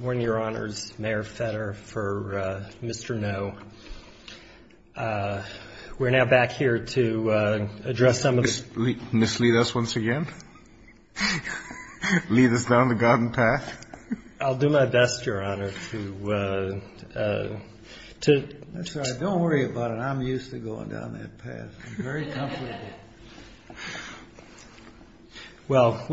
One of your honors, Mayor Fetter, for Mr. No. We're now back here to address some of the... Mislead us once again? Lead us down the garden path? I'll do my best, Your Honor, to... That's all right. Don't worry about it. I'm used to going down that path. It's very comfortable. Well,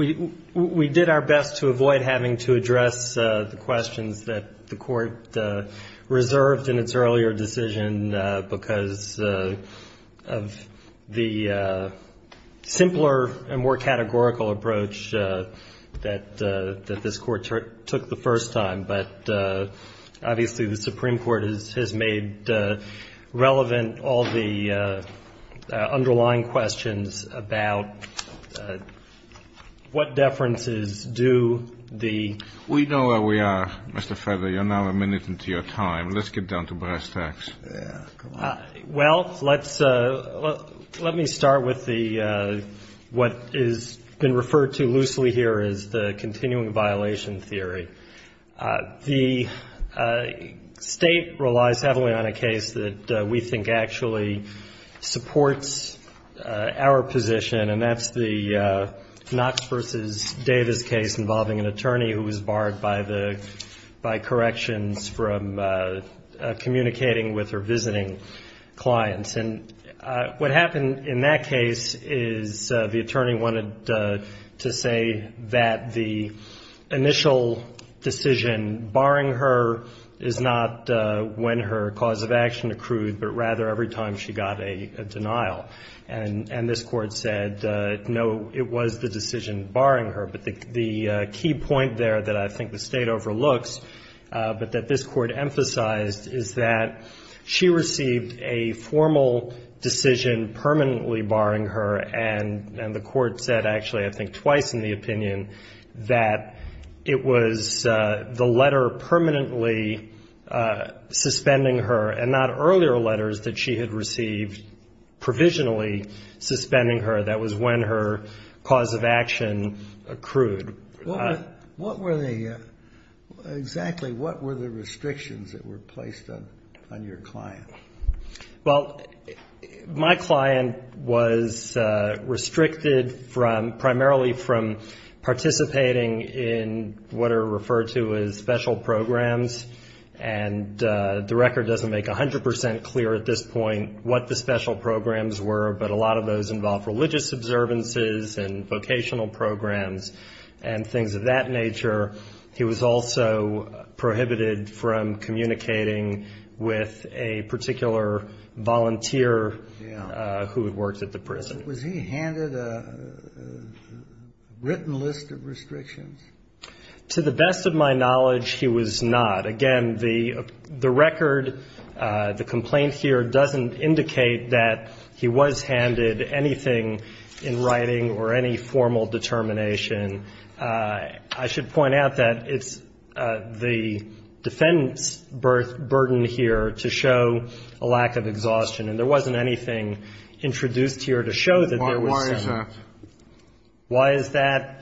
we did our best to avoid having to address the questions that the Court reserved in its earlier decision because of the simpler and more categorical approach that this Court took the first time. But obviously the Supreme Court has made relevant all the underlying questions about what deferences do the... We know where we are, Mr. Fetter. You're now a minute into your time. Let's get down to brass tacks. Well, let me start with what has been referred to loosely here as the continuing violation theory. The State relies heavily on a case that we think actually supports our position, and that's the Knotts v. Davis case involving an attorney who was barred by corrections from communicating with or visiting clients. And what happened in that case is the attorney wanted to say that the initial decision barring her is not when her cause of action accrued, but rather every time she got a denial. And this Court said, no, it was the decision barring her, but the key point there that I think the State overlooks but that this Court emphasized is that she received a formal decision permanently barring her, and the Court said actually I think twice in the opinion that it was the letter permanently suspending her and not earlier letters that she had received provisionally suspending her. That was when her cause of action accrued. What were the – exactly what were the restrictions that were placed on your client? Well, my client was restricted primarily from participating in what are referred to as special programs, and the record doesn't make 100 percent clear at this point what the special programs were, but a lot of those involve religious observances and vocational programs and things of that nature. He was also prohibited from communicating with a particular volunteer who had worked at the prison. Was he handed a written list of restrictions? To the best of my knowledge, he was not. Again, the record, the complaint here doesn't indicate that he was handed anything in writing or any formal determination. I should point out that it's the defendant's burden here to show a lack of exhaustion, and there wasn't anything introduced here to show that there was any. Why is that? Why is that?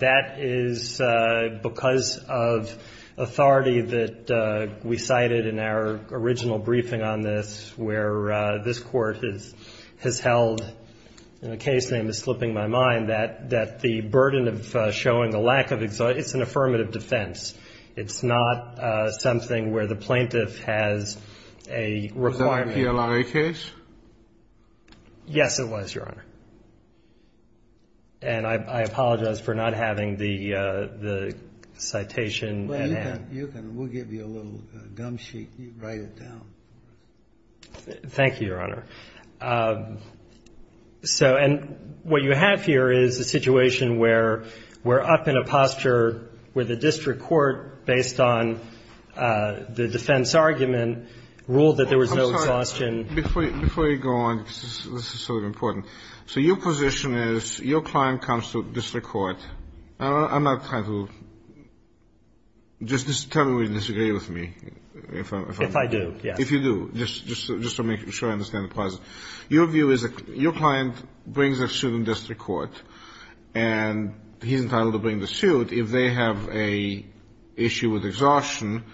That is because of authority that we cited in our original briefing on this, where this Court has held, and the case name is slipping my mind, that the burden of showing a lack of – it's an affirmative defense. It's not something where the plaintiff has a requirement. Was that a PLIA case? Yes, it was, Your Honor. And I apologize for not having the citation at hand. Well, you can. We'll give you a little gum sheet right at the end. Thank you, Your Honor. And what you have here is a situation where we're up in a posture where the district court, based on the defense argument, ruled that there was no exhaustion. Before you go on, this is sort of important. So your position is your client comes to district court. I'm not trying to – just tell me if you disagree with me. If I do, yes. If you do, just to make sure I understand the process. Your client brings a suit in district court, and he's entitled to bring the suit. If they have an issue with exhaustion,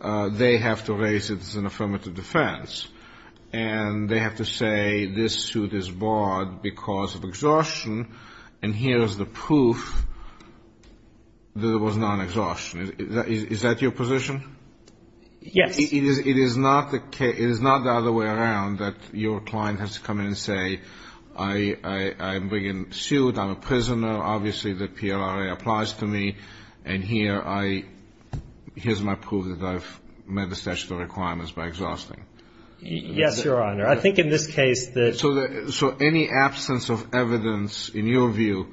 they have to raise it as an affirmative defense. And they have to say this suit is barred because of exhaustion, and here is the proof that it was non-exhaustion. Is that your position? Yes. It is not the other way around that your client has to come in and say, I'm bringing a suit, I'm a prisoner, obviously the PLRA applies to me, and here's my proof that I've met the statutory requirements by exhausting. Yes, Your Honor. I think in this case that – So any absence of evidence, in your view,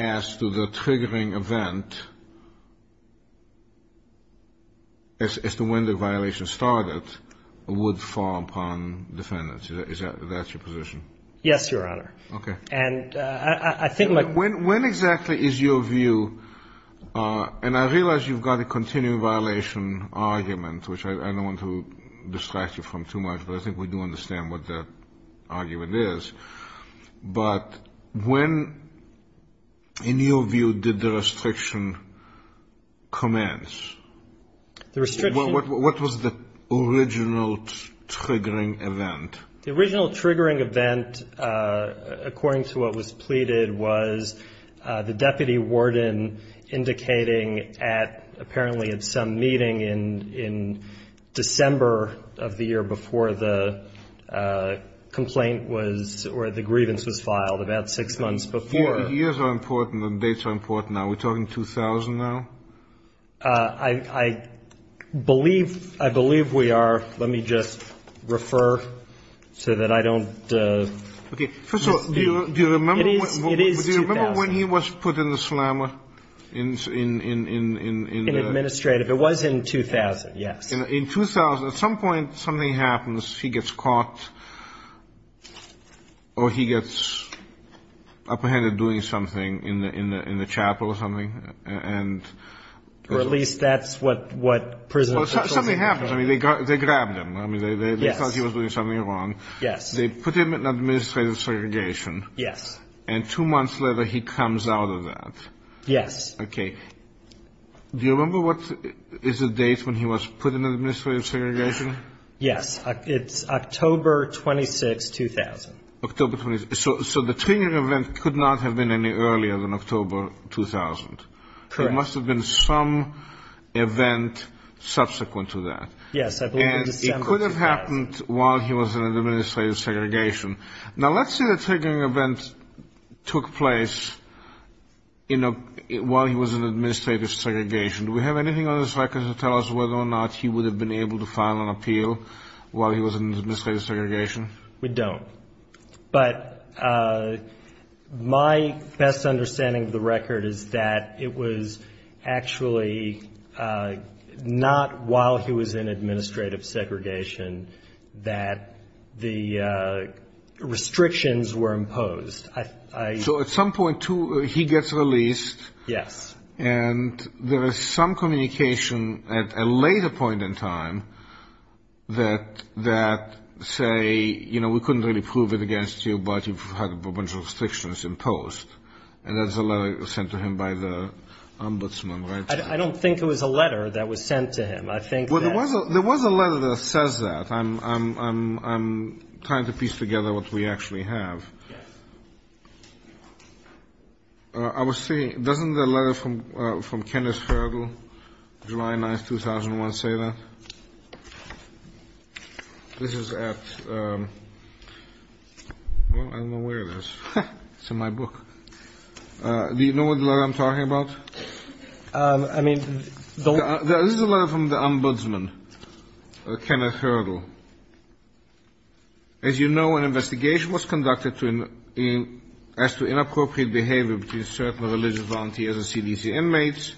as to the triggering event, as to when the violation started, would fall upon defendants. Is that your position? Yes, Your Honor. Okay. And I think – When exactly is your view – and I realize you've got a continuing violation argument, which I don't want to distract you from too much, but I think we do understand what that argument is. But when, in your view, did the restriction commence? What was the original triggering event? The original triggering event, according to what was pleaded, was the deputy warden indicating at – apparently at some meeting in December of the year before the complaint was – or the grievance was filed about six months before. Years are important and dates are important. Are we talking 2000 now? I believe we are. Let me just refer so that I don't – Okay. First of all, do you remember when he was put in the slammer? In administrative. It was in 2000, yes. In 2000. At some point, something happens. He gets caught, or he gets apprehended doing something in the chapel or something, and – Or at least that's what prison – Something happened. They grabbed him. They thought he was doing something wrong. Yes. They put him in administrative segregation. Yes. And two months later, he comes out of that. Yes. Okay. Do you remember what is the date when he was put in administrative segregation? Yes. It's October 26, 2000. October 26. So the triggering event could not have been any earlier than October 2000. Correct. There must have been some event subsequent to that. Yes. And it could have happened while he was in administrative segregation. Now, let's say the triggering event took place while he was in administrative segregation. Do we have anything on this record to tell us whether or not he would have been able to file an appeal while he was in administrative segregation? We don't. But my best understanding of the record is that it was actually not while he was in administrative segregation that the restrictions were imposed. So at some point, too, he gets released. Yes. And there is some communication at a later point in time that say, you know, we couldn't really prove it against you, but you've had a bunch of restrictions imposed. And that's a letter sent to him by the ombudsman. I don't think it was a letter that was sent to him. There was a letter that says that. I'm trying to piece together what we actually have. I was thinking, doesn't the letter from Kenneth Hurdle, July 9th, 2001, say that? This is at, well, I won't wear this. It's in my book. Do you know what letter I'm talking about? I mean, don't. This is a letter from the ombudsman, Kenneth Hurdle. As you know, an investigation was conducted as to inappropriate behavior between certain religious volunteers and CDC inmates.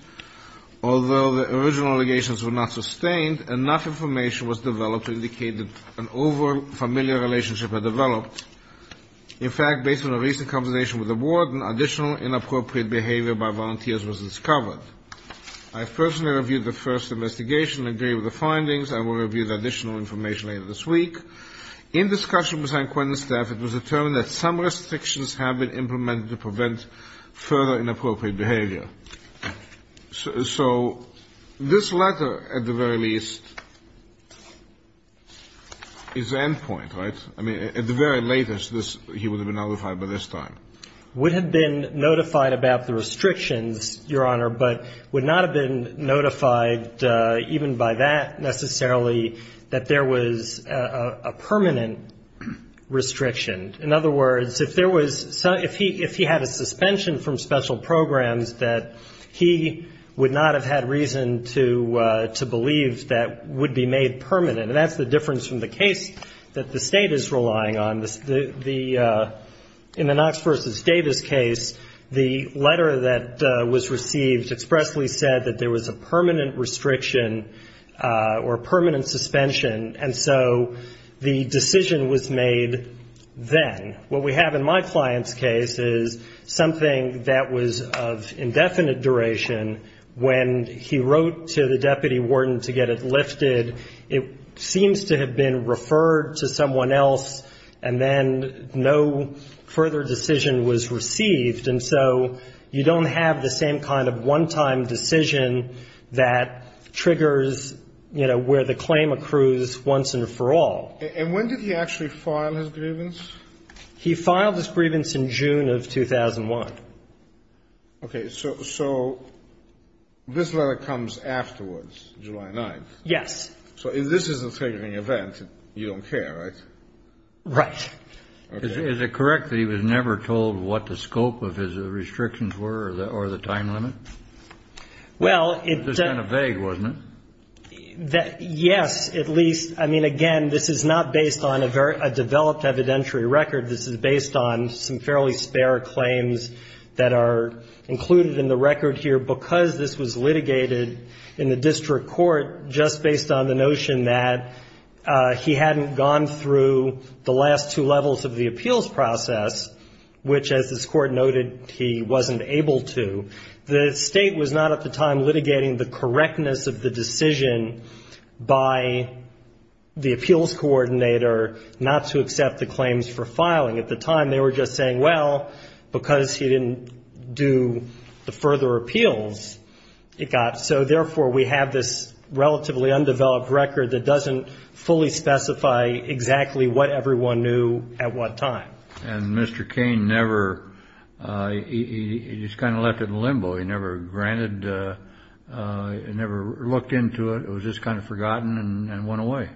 Although the original allegations were not sustained, enough information was developed to indicate that an over-familiar relationship had developed. In fact, based on a recent conversation with the warden, additional inappropriate behavior by volunteers was discovered. I personally reviewed the first investigation and gave the findings. I will review the additional information later this week. In discussion with my acquaintance, it was determined that some restrictions had been implemented to prevent further inappropriate behavior. So this letter, at the very least, is the end point, right? I mean, at the very latest, he would have been notified by this time. He would have been notified about the restrictions, Your Honor, but would not have been notified even by that, necessarily, that there was a permanent restriction. In other words, if he had a suspension from special programs, that he would not have had reason to believe that would be made permanent. And that's the difference from the case that the State is relying on. In the Knox v. Davis case, the letter that was received expressly said that there was a permanent restriction or permanent suspension, and so the decision was made then. What we have in my client's case is something that was of indefinite duration. When he wrote to the deputy warden to get it lifted, it seems to have been referred to someone else, and then no further decision was received. And so you don't have the same kind of one-time decision that triggers, you know, where the claim accrues once and for all. And when did he actually file his grievance? He filed his grievance in June of 2001. Okay, so this letter comes afterwards, July 9th. Yes. So if this is a favoring event, you don't care, right? Right. Is it correct that he was never told what the scope of his restrictions were or the time limit? Well, it's just kind of vague, wasn't it? Yes, at least. I mean, again, this is not based on a developed evidentiary record. This is based on some fairly spare claims that are included in the record here because this was litigated in the district court just based on the notion that he hadn't gone through the last two levels of the appeals process, which, as this court noted, he wasn't able to. The state was not at the time litigating the correctness of the decision by the appeals coordinator not to accept the claims for filing. At the time, they were just saying, well, because he didn't do the further appeals, it got. So, therefore, we have this relatively undeveloped record that doesn't fully specify exactly what everyone knew at what time. And Mr. Cain never, he just kind of left it in limbo. He never granted, never looked into it. It was just kind of forgotten and went away.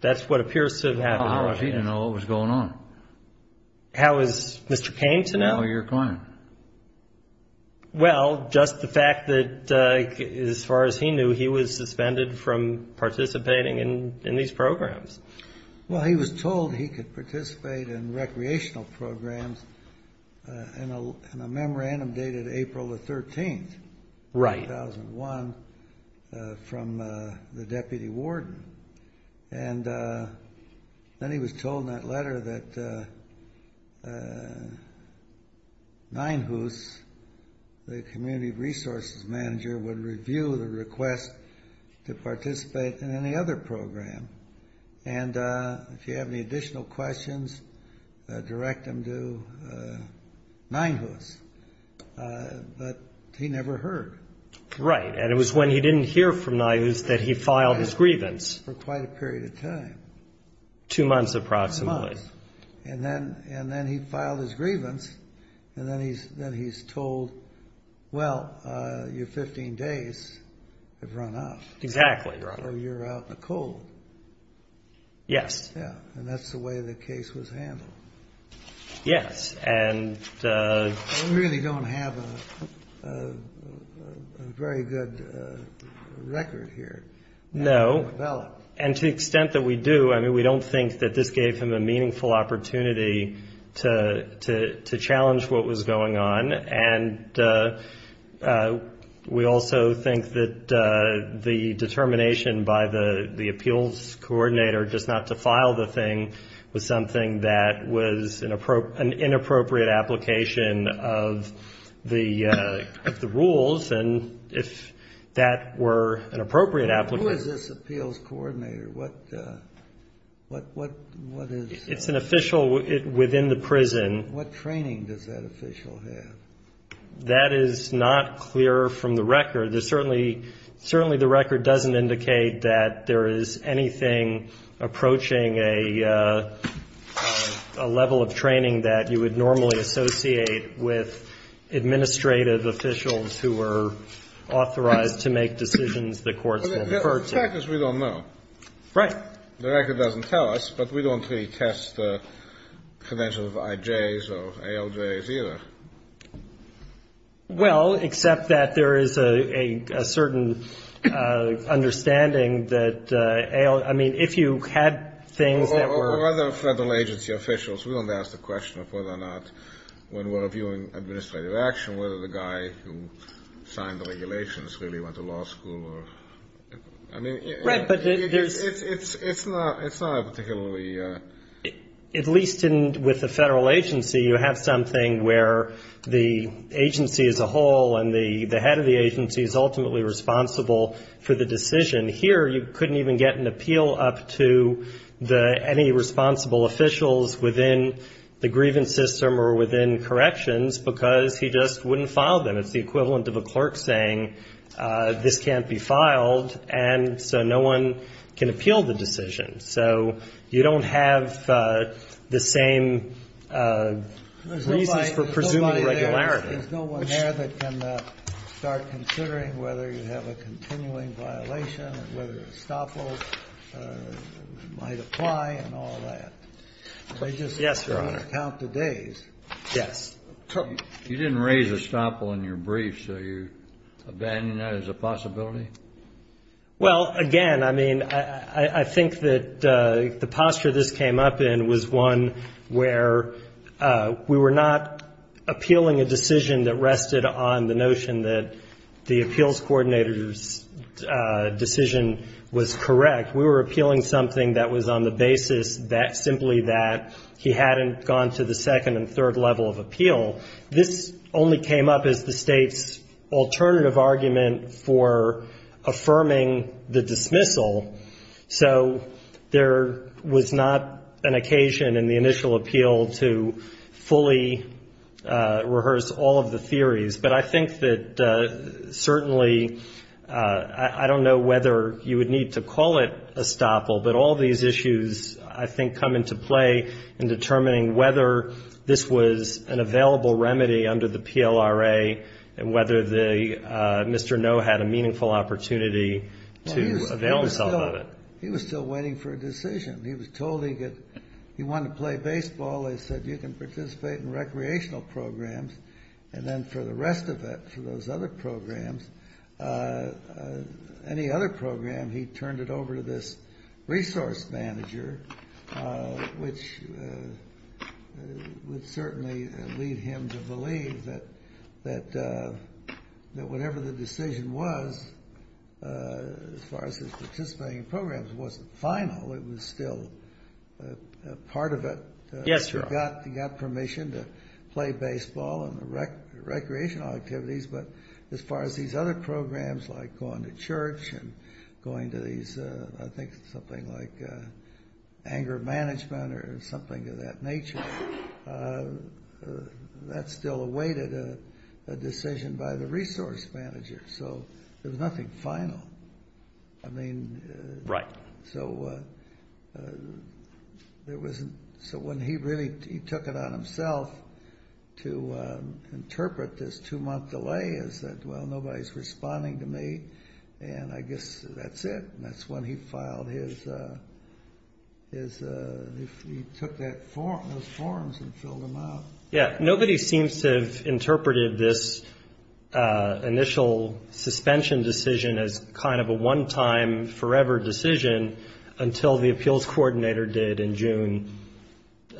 That's what appears to have happened. He didn't know what was going on. How is Mr. Cain to know? Well, you're fine. Well, just the fact that, as far as he knew, he was suspended from participating in these programs. Well, he was told he could participate in recreational programs in a memorandum dated April the 13th. Right. 2001 from the deputy warden. And then he was told in that letter that Nine Hoots, the community resources manager, would review the request to participate in any other program. And if you have any additional questions, direct them to Nine Hoots. But he never heard. Right. And it was when he didn't hear from Nine Hoots that he filed his grievance. For quite a period of time. Two months approximately. And then he filed his grievance. And then he's told, well, your 15 days have run up. Exactly. So you're out in the cold. Yes. Yeah. And that's the way the case was handled. Yes. We really don't have a very good record here. No. And to the extent that we do, I mean, we don't think that this gave him a meaningful opportunity to challenge what was going on. And we also think that the determination by the appeals coordinator just not to file the thing was something that was an inappropriate application of the rules. And if that were an appropriate application. Who is this appeals coordinator? What is? It's an official within the prison. What training does that official have? That is not clear from the record. Certainly the record doesn't indicate that there is anything approaching a level of training that you would normally associate with administrative officials who are authorized to make decisions the courts have referred to. The fact is we don't know. Right. The record doesn't tell us, but we don't really test the credentials of IJs or ALJs either. Well, except that there is a certain understanding that, I mean, if you had things that were... Well, we're not federal agency officials. We don't ask the question of whether or not when we're reviewing administrative action, whether the guy who signed the regulations really went to law school or... It's not a particularly... At least with the federal agency, you have something where the agency as a whole and the head of the agency is ultimately responsible for the decision. Here you couldn't even get an appeal up to any responsible officials within the grievance system or within corrections because he just wouldn't file them. It's the equivalent of a court saying this can't be filed, and so no one can appeal the decision. So you don't have the same reasons for pursuing a regularity. There's no one there that can start considering whether you have a continuing violation and whether a stop will apply and all that. Yes, Your Honor. They just count the days. Yes. You didn't raise a stop on your brief, so you're abandoning that as a possibility? Well, again, I mean, I think that the posture this came up in was one where we were not appealing a decision that rested on the notion that the appeals coordinator's decision was correct. We were appealing something that was on the basis simply that he hadn't gone to the second and third level of appeal. This only came up as the State's alternative argument for affirming the dismissal. So there was not an occasion in the initial appeal to fully rehearse all of the theories. But I think that certainly I don't know whether you would need to call it a stop, but all these issues I think come into play in determining whether this was an available remedy under the PLRA and whether Mr. Noe had a meaningful opportunity to avail himself of it. He was still waiting for a decision. He was told he wanted to play baseball. They said, you can participate in recreational programs. And then for the rest of it, for those other programs, any other program, he turned it over to this resource manager, which would certainly lead him to believe that whatever the decision was, as far as his participating in programs, wasn't final. It was still part of it. He got permission to play baseball and recreational activities. But as far as these other programs, like going to church and going to these, I think, something like anger management or something of that nature, that still awaited a decision by the resource manager. So there's nothing final. Right. So when he really took it on himself to interpret this two-month delay, he said, well, nobody's responding to me. And I guess that's it. And that's when he took those forms and filled them out. Yeah. Nobody seems to have interpreted this initial suspension decision as kind of a one-time forever decision until the appeals coordinator did in June,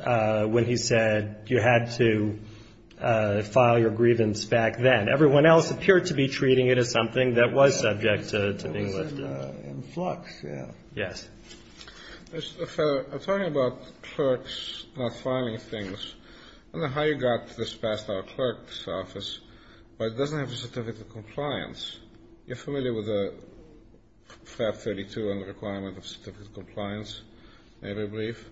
when he said you had to file your grievance back then. Everyone else appeared to be treating it as something that was subject to being listed. In flux, yeah. Yes. I'm talking about clerks not filing things. I don't know how you got this passed by a clerk's office, but it doesn't have a certificate of compliance. You're familiar with FAB 32 and the requirement of certificate of compliance? Maybe a brief?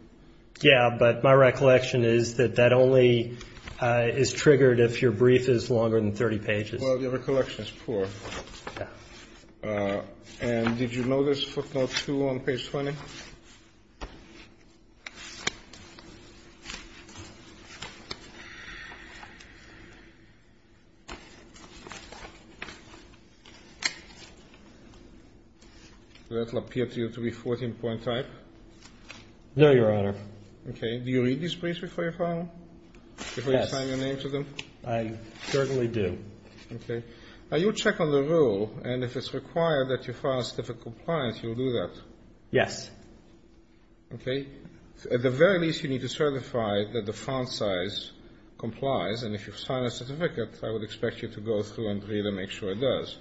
Yeah, but my recollection is that that only is triggered if your brief is longer than 30 pages. Well, your recollection is poor. Yeah. And did you know there's a footnote, too, on page 20? Does it not appear to you to be 14 point type? No, Your Honor. Okay. Do you read these briefs before you file them? Yes. Before you sign your name to them? I certainly do. Okay. Now, you check on the rule, and if it's required that you file a certificate of compliance, you'll do that? Yes. Okay. At the very least, you need to certify that the font size complies. And if you sign a certificate, I would expect you to go through and read and make sure it does.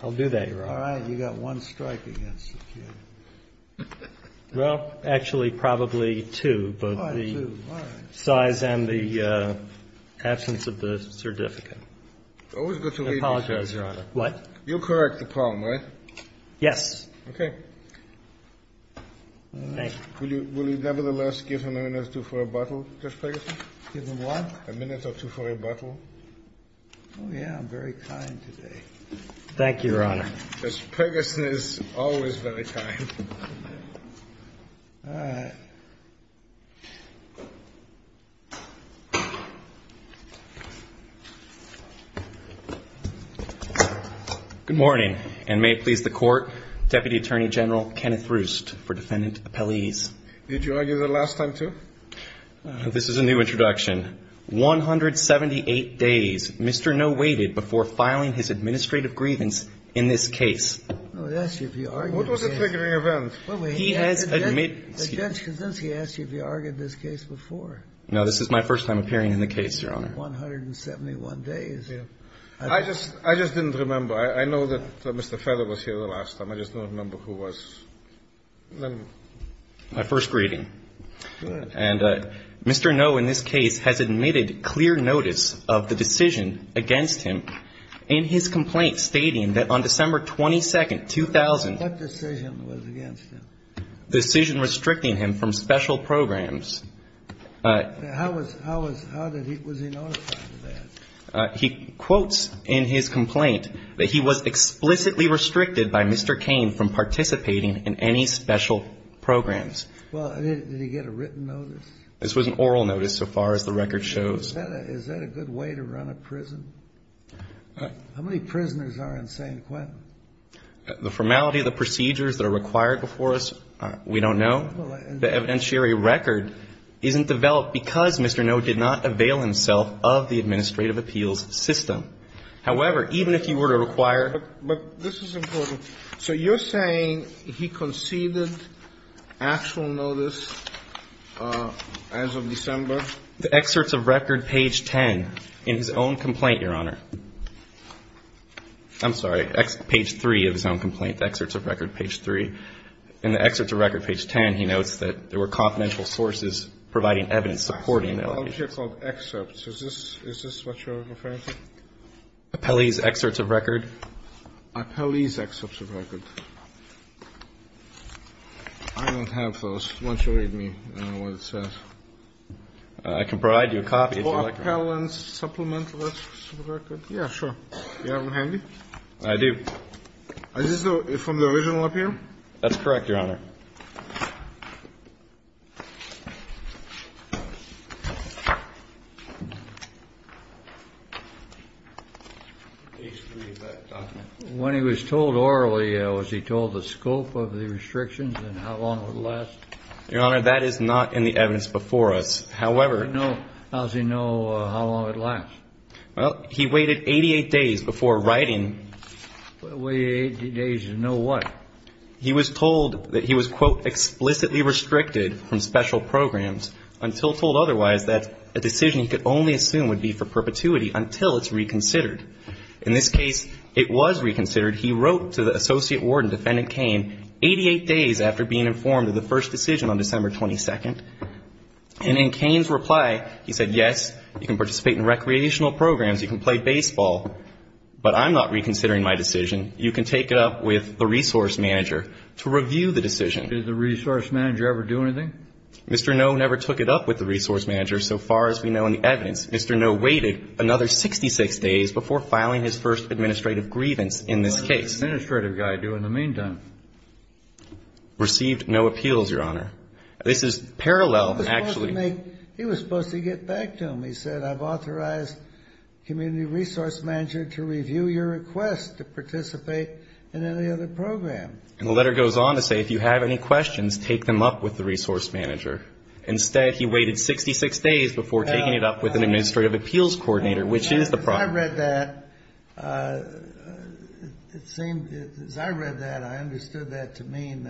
I'll do that, Your Honor. All right. You've got one strike against you. Well, actually, probably two. Size and the absence of the certificate. Always good to read these, Your Honor. I apologize. What? You'll correct the problem, right? Yes. Okay. Thank you. Will you nevertheless give him a minute or two for a bottle, Mr. Ferguson? Give him what? A minute or two for a bottle. Oh, yeah. I'm very kind today. Thank you, Your Honor. Mr. Ferguson is always very kind. All right. Good morning. And may it please the Court, Deputy Attorney General Kenneth Roost for defendant's appellees. Did you argue the last time, too? This is a new introduction. 178 days Mr. Noh waited before filing his administrative grievance in this case. Oh, yes. What was the triggering event? Well, he has admitted. The judge said, doesn't he ask you if you argued this case before? No, this is my first time appearing in the case, Your Honor. 171 days. I just didn't remember. I know that Mr. Feder was here the last time. I just don't remember who was. My first grieving. And Mr. Noh, in this case, has admitted clear notice of the decision against him in his complaint, stating that on December 22, 2000, What decision was against him? Decision restricting him from special programs. How was he notified of that? He quotes in his complaint that he was explicitly restricted by Mr. Cain from participating in any special programs. Well, did he get a written notice? This was an oral notice, so far as the record shows. Is that a good way to run a prison? How many prisoners are in St. Quentin? The formality of the procedures that are required before us, we don't know. The evidentiary record isn't developed because Mr. Noh did not avail himself of the administrative appeals system. However, even if he were to require it. But this is important. So you're saying he conceded actual notice as of December? The excerpts of record, page 10, in his own complaint, Your Honor. I'm sorry. Page 3 of his own complaint. The excerpts of record, page 3. In the excerpts of record, page 10, he notes that there were confidential sources providing evidence supporting that. I don't hear called excerpts. Is this what you're referring to? Appellee's excerpts of record. Appellee's excerpts of record. I don't have those. Why don't you read me what it says? I can provide you a copy. Appellee's Supplemental Excerpts of Record. Yeah, sure. Do you have them handy? I do. Are these from the original appeal? That's correct, Your Honor. Page 3 of that document. When he was told orally, was he told the scope of the restrictions and how long it would last? Your Honor, that is not in the evidence before us. However. How does he know how long it lasts? He waited 88 days before writing. Waited 88 days to know what? He was told that he was, quote, explicitly restricted from special programs until told otherwise that a decision he could only assume would be for perpetuity until it's reconsidered. In this case, it was reconsidered. He wrote to the Associate Warden, Defendant Kane, 88 days after being informed of the first decision on December 22nd. And in Kane's reply, he said, yes, you can participate in recreational programs. You can play baseball. But I'm not reconsidering my decision. You can take it up with the resource manager to review the decision. Did the resource manager ever do anything? Mr. Noe never took it up with the resource manager so far as we know in the evidence. Mr. Noe waited another 66 days before filing his first administrative grievance in this case. What does the administrative guy do in the meantime? Received no appeals, Your Honor. This is parallel, actually. He was supposed to get back to him. And he said, I've authorized community resource manager to review your request to participate in any other program. And the letter goes on to say, if you have any questions, take them up with the resource manager. Instead, he waited 66 days before taking it up with an administrative appeals coordinator, which is the problem. I read that. As I read that, I understood that to mean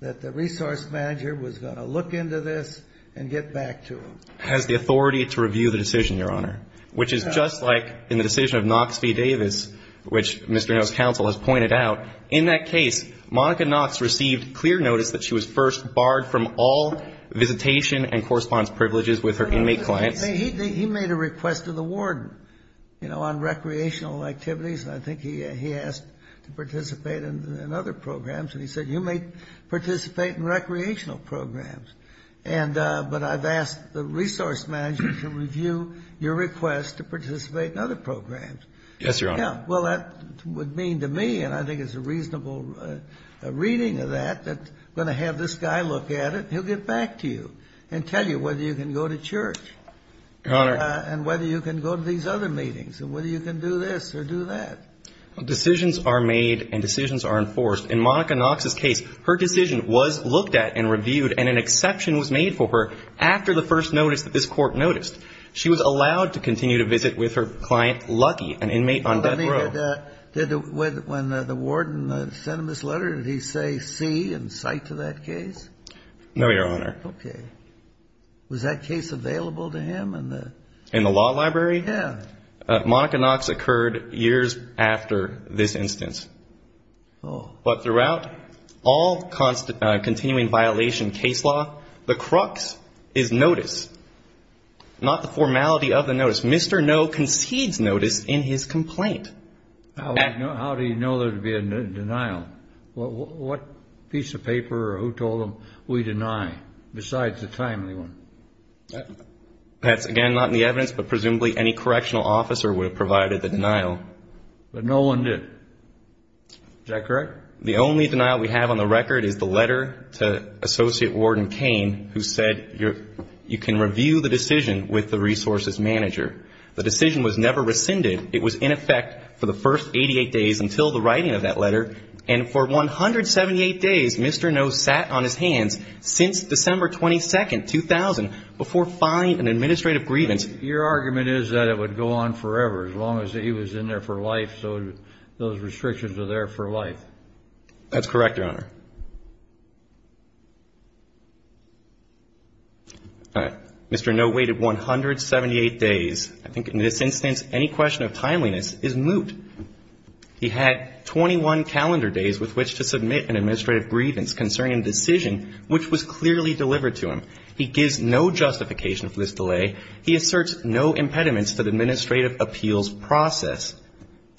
that the resource manager was going to look into this and get back to him. The resource manager has the authority to review the decision, Your Honor, which is just like in the decision of Knox v. Davis, which Mr. Noe's counsel has pointed out. In that case, Monica Knox received clear notice that she was first barred from all visitation and correspondence privileges with her inmate client. He made a request to the warden on recreational activities, and I think he asked to participate in other programs. And he said, you may participate in recreational programs. But I've asked the resource manager to review your request to participate in other programs. Yes, Your Honor. Well, that would mean to me, and I think it's a reasonable reading of that, that I'm going to have this guy look at it and he'll get back to you and tell you whether you can go to church and whether you can go to these other meetings and whether you can do this or do that. Decisions are made and decisions are enforced. In Monica Knox's case, her decision was looked at and reviewed, and an exception was made for her after the first notice that this court noticed. She was allowed to continue to visit with her client, Lucky, an inmate on death row. When the warden sent him this letter, did he say see and cite to that case? No, Your Honor. Okay. Was that case available to him? In the law library? Yes. Monica Knox occurred years after this instance. But throughout all continuing violation case law, the crux is notice, not the formality of the notice. Mr. No concedes notice in his complaint. How did he know there would be a denial? What piece of paper or who told him, we deny, besides the timely one? That's, again, not in the evidence, but presumably any correctional officer would have provided the denial. But no one did. Is that correct? The only denial we have on the record is the letter to Associate Warden Cain, who said you can review the decision with the resources manager. The decision was never rescinded. It was in effect for the first 88 days until the writing of that letter, and for 178 days Mr. No sat on his hands since December 22nd, 2000, before filing an administrative grievance. Your argument is that it would go on forever as long as he was in there for life, so those restrictions are there for life. That's correct, Your Honor. Mr. No waited 178 days. I think in this instance any question of timeliness is moot. He had 21 calendar days with which to submit an administrative grievance concerning a decision, which was clearly delivered to him. He gives no justification for this delay. He asserts no impediments to the administrative appeals process,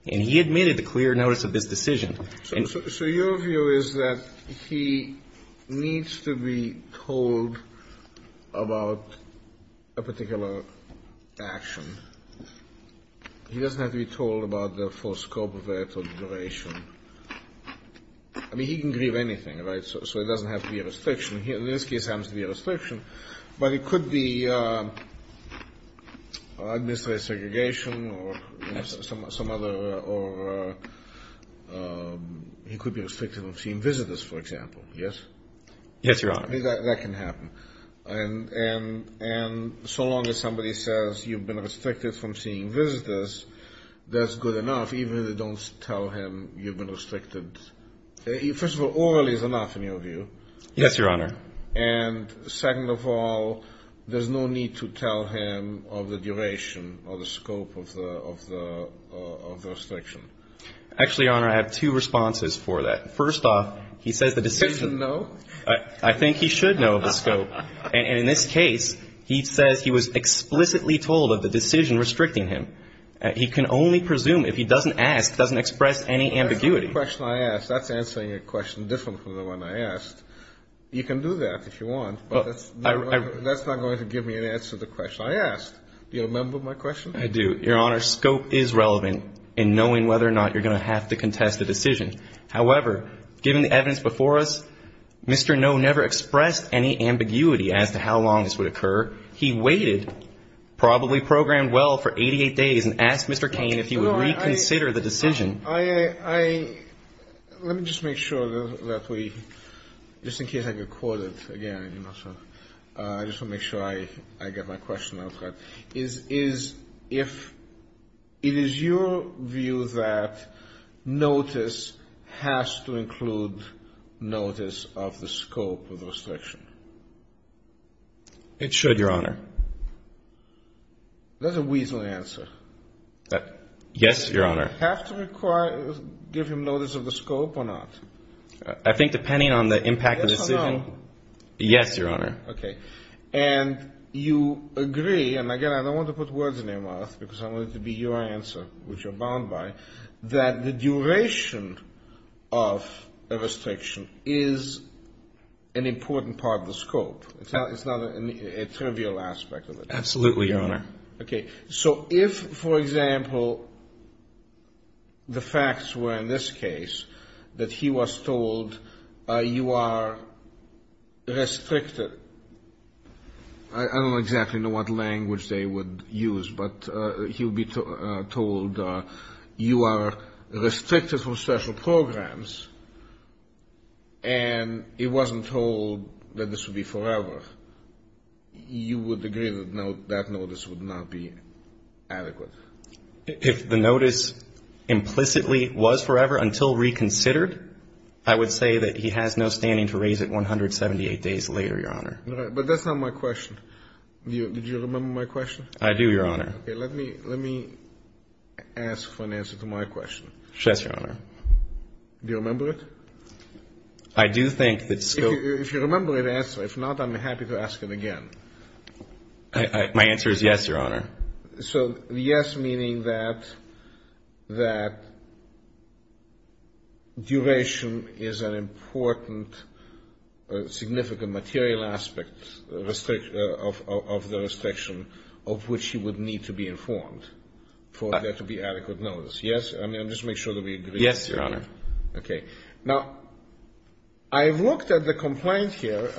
and he admitted to clear notice of this decision. So your view is that he needs to be told about a particular action. He doesn't have to be told about the full scope of that operation. I mean, he can grieve anything, right, so it doesn't have to be a restriction. In this case it happens to be a restriction, but it could be administrative segregation or some other, or he could be restricted from seeing visitors, for example, yes? Yes, Your Honor. That can happen. And so long as somebody says you've been restricted from seeing visitors, that's good enough, even if they don't tell him you've been restricted. First of all, orally is enough in your view. Yes, Your Honor. And second of all, there's no need to tell him of the duration or the scope of the restriction. Actually, Your Honor, I have two responses for that. First off, he says the decision… He doesn't know? I think he should know of the scope. And in this case, he says he was explicitly told of the decision restricting him. He can only presume if he doesn't ask, doesn't express any ambiguity. That's answering a question different from the one I asked. You can do that if you want, but that's not going to give me an answer to the question I asked. Do you remember my question? I do. Your Honor, scope is relevant in knowing whether or not you're going to have to contest a decision. However, given the evidence before us, Mr. No never expressed any ambiguity as to how long this would occur. He waited, probably programmed well for 88 days, and asked Mr. Cain if he would reconsider the decision. Let me just make sure, just in case I get quoted again, I just want to make sure I get my question out. Is it your view that notice has to include notice of the scope of the restriction? It should, Your Honor. That's a weasel answer. Yes, Your Honor. Does it have to give him notice of the scope or not? I think depending on the impact of the decision. Yes or no? Yes, Your Honor. Okay. And you agree, and again I don't want to put words in your mouth because I want it to be your answer, which you're bound by, that the duration of a restriction is an important part of the scope. It's not a trivial aspect of it. Absolutely, Your Honor. Okay. So if, for example, the facts were in this case that he was told you are restricted, I don't exactly know what language they would use, but he would be told you are restricted from special programs, and he wasn't told that this would be forever, you would agree that that notice would not be adequate? If the notice implicitly was forever until reconsidered, I would say that he has no standing to raise it 178 days later, Your Honor. Okay. But that's not my question. Do you remember my question? I do, Your Honor. Okay. Let me ask for an answer to my question. Yes, Your Honor. Do you remember it? I do think that the scope of the question. If you remember the answer, if not, I'm happy to ask it again. My answer is yes, Your Honor. So yes, meaning that duration is an important significant material aspect of the restriction of which you would need to be informed for there to be adequate notice. Yes? Yes, Your Honor. Okay. Now, I looked at the complaint here,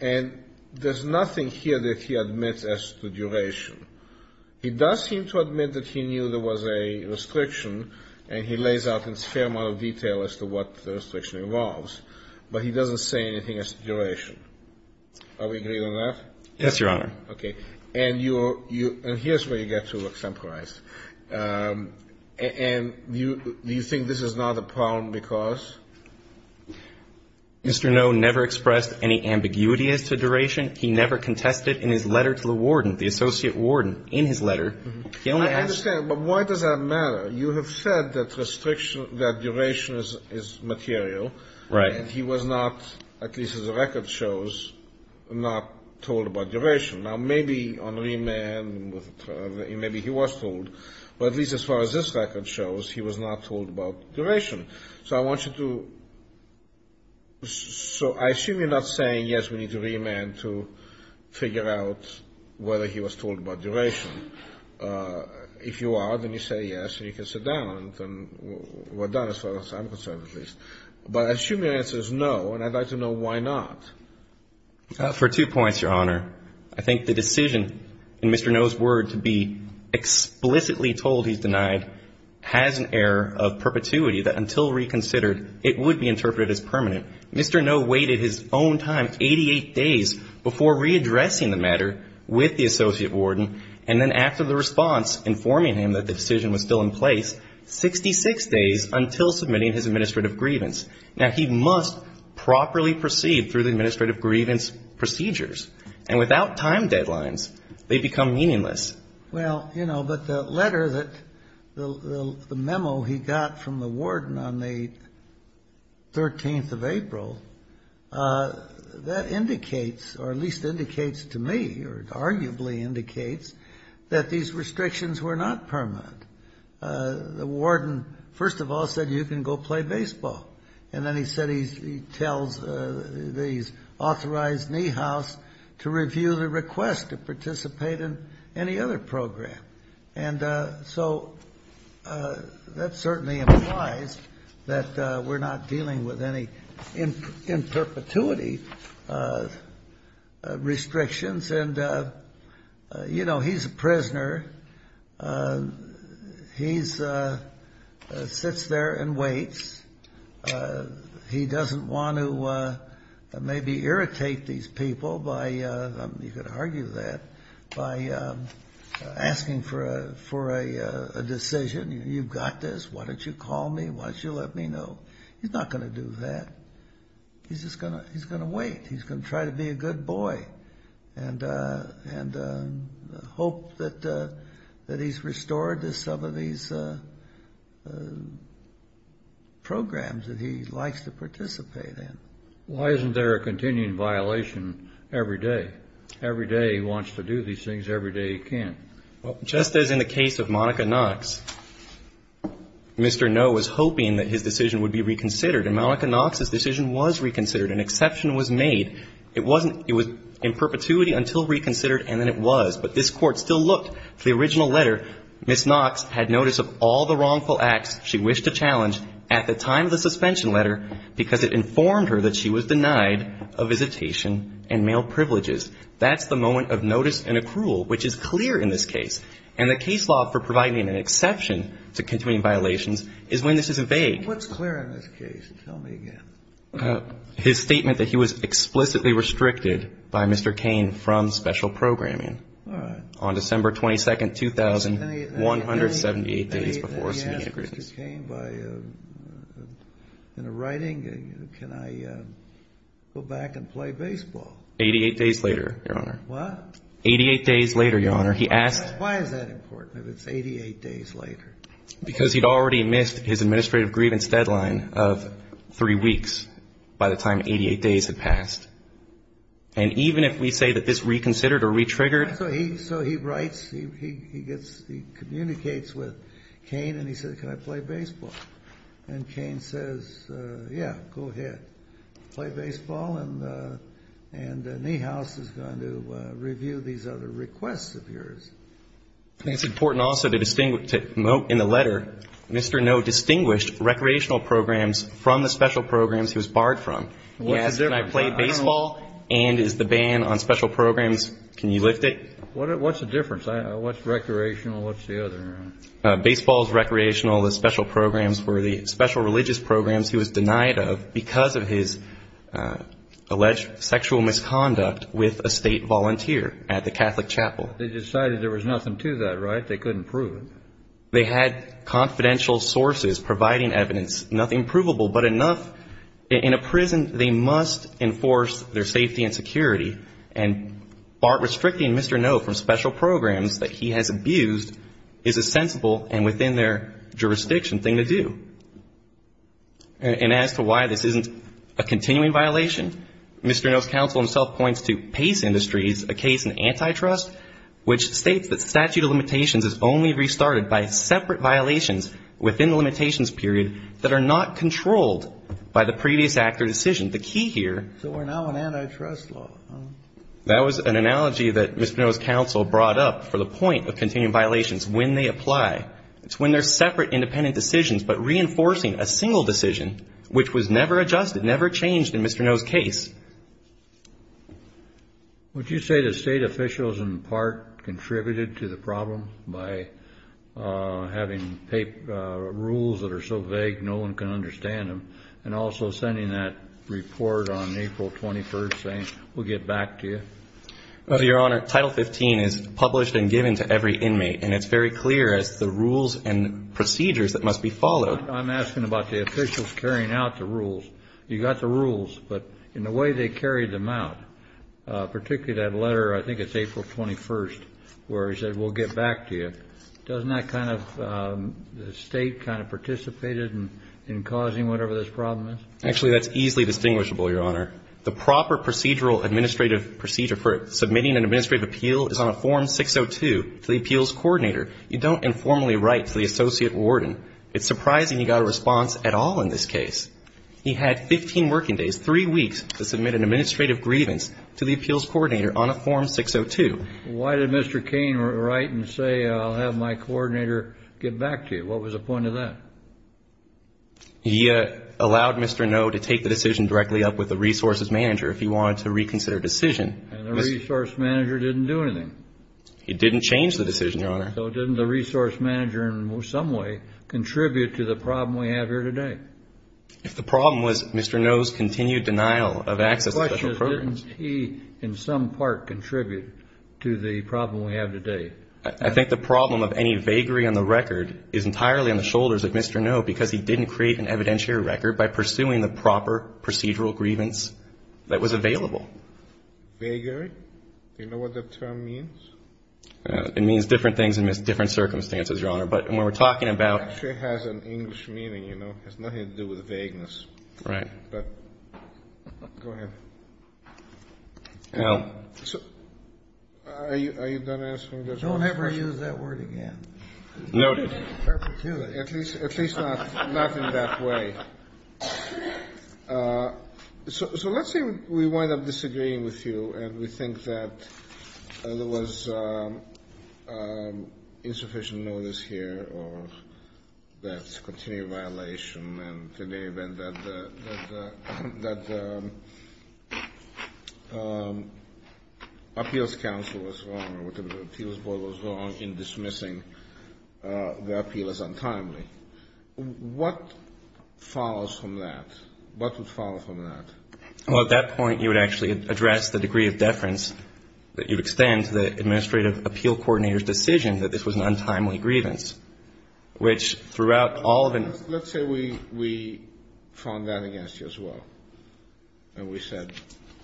and there's nothing here that he admits as to duration. He does seem to admit that he knew there was a restriction, and he lays out in a fair amount of detail as to what the restriction involves, but he doesn't say anything as to duration. Are we agreed on that? Yes, Your Honor. Okay. And here's where you get to look temporized. And do you think this is not a problem because? Mr. Noe never expressed any ambiguity as to duration. He never contested in his letter to the warden, the associate warden, in his letter. I understand, but why does that matter? You have said that duration is material. Right. And he was not, at least as the record shows, not told about duration. Now, maybe on remand, maybe he was told, but at least as far as this record shows, he was not told about duration. So I assume you're not saying, yes, we need to remand to figure out whether he was told about duration. If you are, then you say yes, and you can sit down, and we're done as far as I'm concerned, at least. But I assume the answer is no, and I'd like to know why not. For two points, Your Honor. I think the decision in Mr. Noe's words to be explicitly told he's denied has an error of perpetuity that until reconsidered, it would be interpreted as permanent. Mr. Noe waited his own time, 88 days, before readdressing the matter with the associate warden, and then after the response informing him that the decision was still in place, 66 days until submitting his administrative grievance. Now, he must properly proceed through the administrative grievance procedures, and without time deadlines, they become meaningless. Well, you know, but the letter that the memo he got from the warden on the 13th of April, that indicates, or at least indicates to me, or arguably indicates, that these restrictions were not permanent. The warden, first of all, said you can go play baseball. And then he said he tells the authorized knee house to review the request to participate in any other program. And so that certainly implies that we're not dealing with any in perpetuity restrictions. And, you know, he's a prisoner. He sits there and waits. He doesn't want to maybe irritate these people by, you could argue that, by asking for a decision. You've got this. Why don't you call me? Why don't you let me know? He's not going to do that. He's just going to wait. He's going to try to be a good boy and hope that he's restored to some of these programs that he likes to participate in. Why isn't there a continuing violation every day? Every day he wants to do these things. Every day he can't. Well, just as in the case of Monica Knox, Mr. Noe was hoping that his decision would be reconsidered. And Monica Knox's decision was reconsidered. An exception was made. It was in perpetuity until reconsidered, and then it was. But this Court still looked to the original letter. Ms. Knox had notice of all the wrongful acts she wished to challenge at the time of the suspension letter because it informed her that she was denied a visitation and male privileges. That's the moment of notice and accrual, which is clear in this case. And the case law for providing an exception to continuing violations is when this is evaded. What's clear in this case? Tell me again. His statement that he was explicitly restricted by Mr. Cain from special programming. All right. On December 22nd, 2000, 178 days before subpoenaed grievance. Did he ask Mr. Cain in writing, can I go back and play baseball? 88 days later, Your Honor. What? 88 days later, Your Honor. Why is that important if it's 88 days later? Because he'd already missed his administrative grievance deadline of three weeks by the time 88 days had passed. And even if we say that this reconsidered or retriggered. So he writes, he communicates with Cain, and he says, can I play baseball? And Cain says, yeah, go ahead. Play baseball, and Niehaus is going to review these other requests of yours. It's important also to note in the letter, Mr. Noe distinguished recreational programs from the special programs he was barred from. What's the difference? Can I play baseball and is the ban on special programs? Can you lift it? What's the difference? What's recreational and what's the other? Baseball is recreational. The special programs were the special religious programs he was denied of because of his alleged sexual misconduct with a state volunteer at the Catholic chapel. They decided there was nothing to that, right? They couldn't prove it. They had confidential sources providing evidence. Nothing provable, but enough. In a prison, they must enforce their safety and security. And restricting Mr. Noe from special programs that he has abused is a sensible and within their jurisdiction thing to do. And as to why this isn't a continuing violation, Mr. Noe's counsel himself points to Pace Industries, a case in antitrust. Which states that statute of limitations is only restarted by separate violations within the limitations period that are not controlled by the previous act or decision. The key here. So we're now in antitrust law. That was an analogy that Mr. Noe's counsel brought up for the point of continuing violations when they apply. It's when they're separate independent decisions, but reinforcing a single decision which was never adjusted, never changed in Mr. Noe's case. Would you say the state officials in part contributed to the problem by having rules that are so vague no one can understand them? And also sending that report on April 21st saying we'll get back to you? Your Honor, Title 15 is published and given to every inmate. And it's very clear it's the rules and procedures that must be followed. I'm asking about the officials carrying out the rules. You got the rules, but in the way they carried them out, particularly that letter, I think it's April 21st, where he said we'll get back to you. Doesn't that kind of state kind of participated in causing whatever this problem is? Actually, that's easily distinguishable, Your Honor. The proper procedural administrative procedure for submitting an administrative appeal is on a form 602 to the appeals coordinator. You don't informally write to the associate warden. It's surprising you got a response at all in this case. He had 15 working days, three weeks, to submit an administrative grievance to the appeals coordinator on a form 602. Why did Mr. Kane write and say I'll have my coordinator get back to you? What was the point of that? He allowed Mr. Noe to take the decision directly up with the resources manager if he wanted to reconsider a decision. And the resource manager didn't do anything? He didn't change the decision, Your Honor. So didn't the resource manager in some way contribute to the problem we have here today? The problem was Mr. Noe's continued denial of access to special programs. The question is didn't he in some part contribute to the problem we have today? I think the problem of any vagary on the record is entirely on the shoulders of Mr. Noe, because he didn't create an evidentiary record by pursuing the proper procedural grievance that was available. Vagary? Do you know what that term means? It means different things in different circumstances, Your Honor. But when we're talking about- It actually has an English meaning, you know. It has nothing to do with vagueness. Right. Go ahead. Are you going to ask me to- Don't ever use that word again. Noted. Perpetually. At least not in that way. So let's say we wind up disagreeing with you, and we think that there was insufficient notice here of that continued violation, and that the appeals council was wrong, or the appeals board was wrong in dismissing the appealers untimely. What follows from that? What would follow from that? Well, at that point you would actually address the degree of deference that you'd extend to the administrative appeal coordinator's decision that this was an untimely grievance, which throughout all of- Let's say we found that against you as well, and we said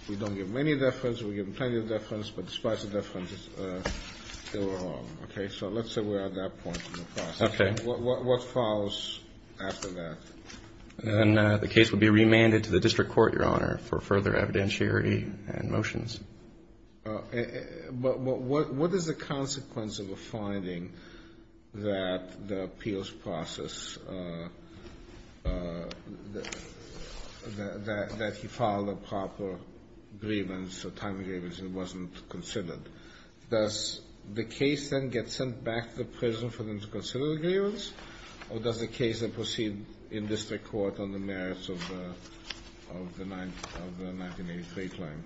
we don't give many deference, we give plenty of deference, but despite the deference it's still wrong. So let's say we're at that point in the process. Okay. What follows after that? The case would be remanded to the district court, Your Honor, for further evidentiary and motions. But what is the consequence of a finding that the appeals process, that you filed a proper grievance for time of grievance and it wasn't considered? Does the case then get sent back to the prison for them to consider the grievance, or does the case then proceed in district court on the merits of the 1983 claim?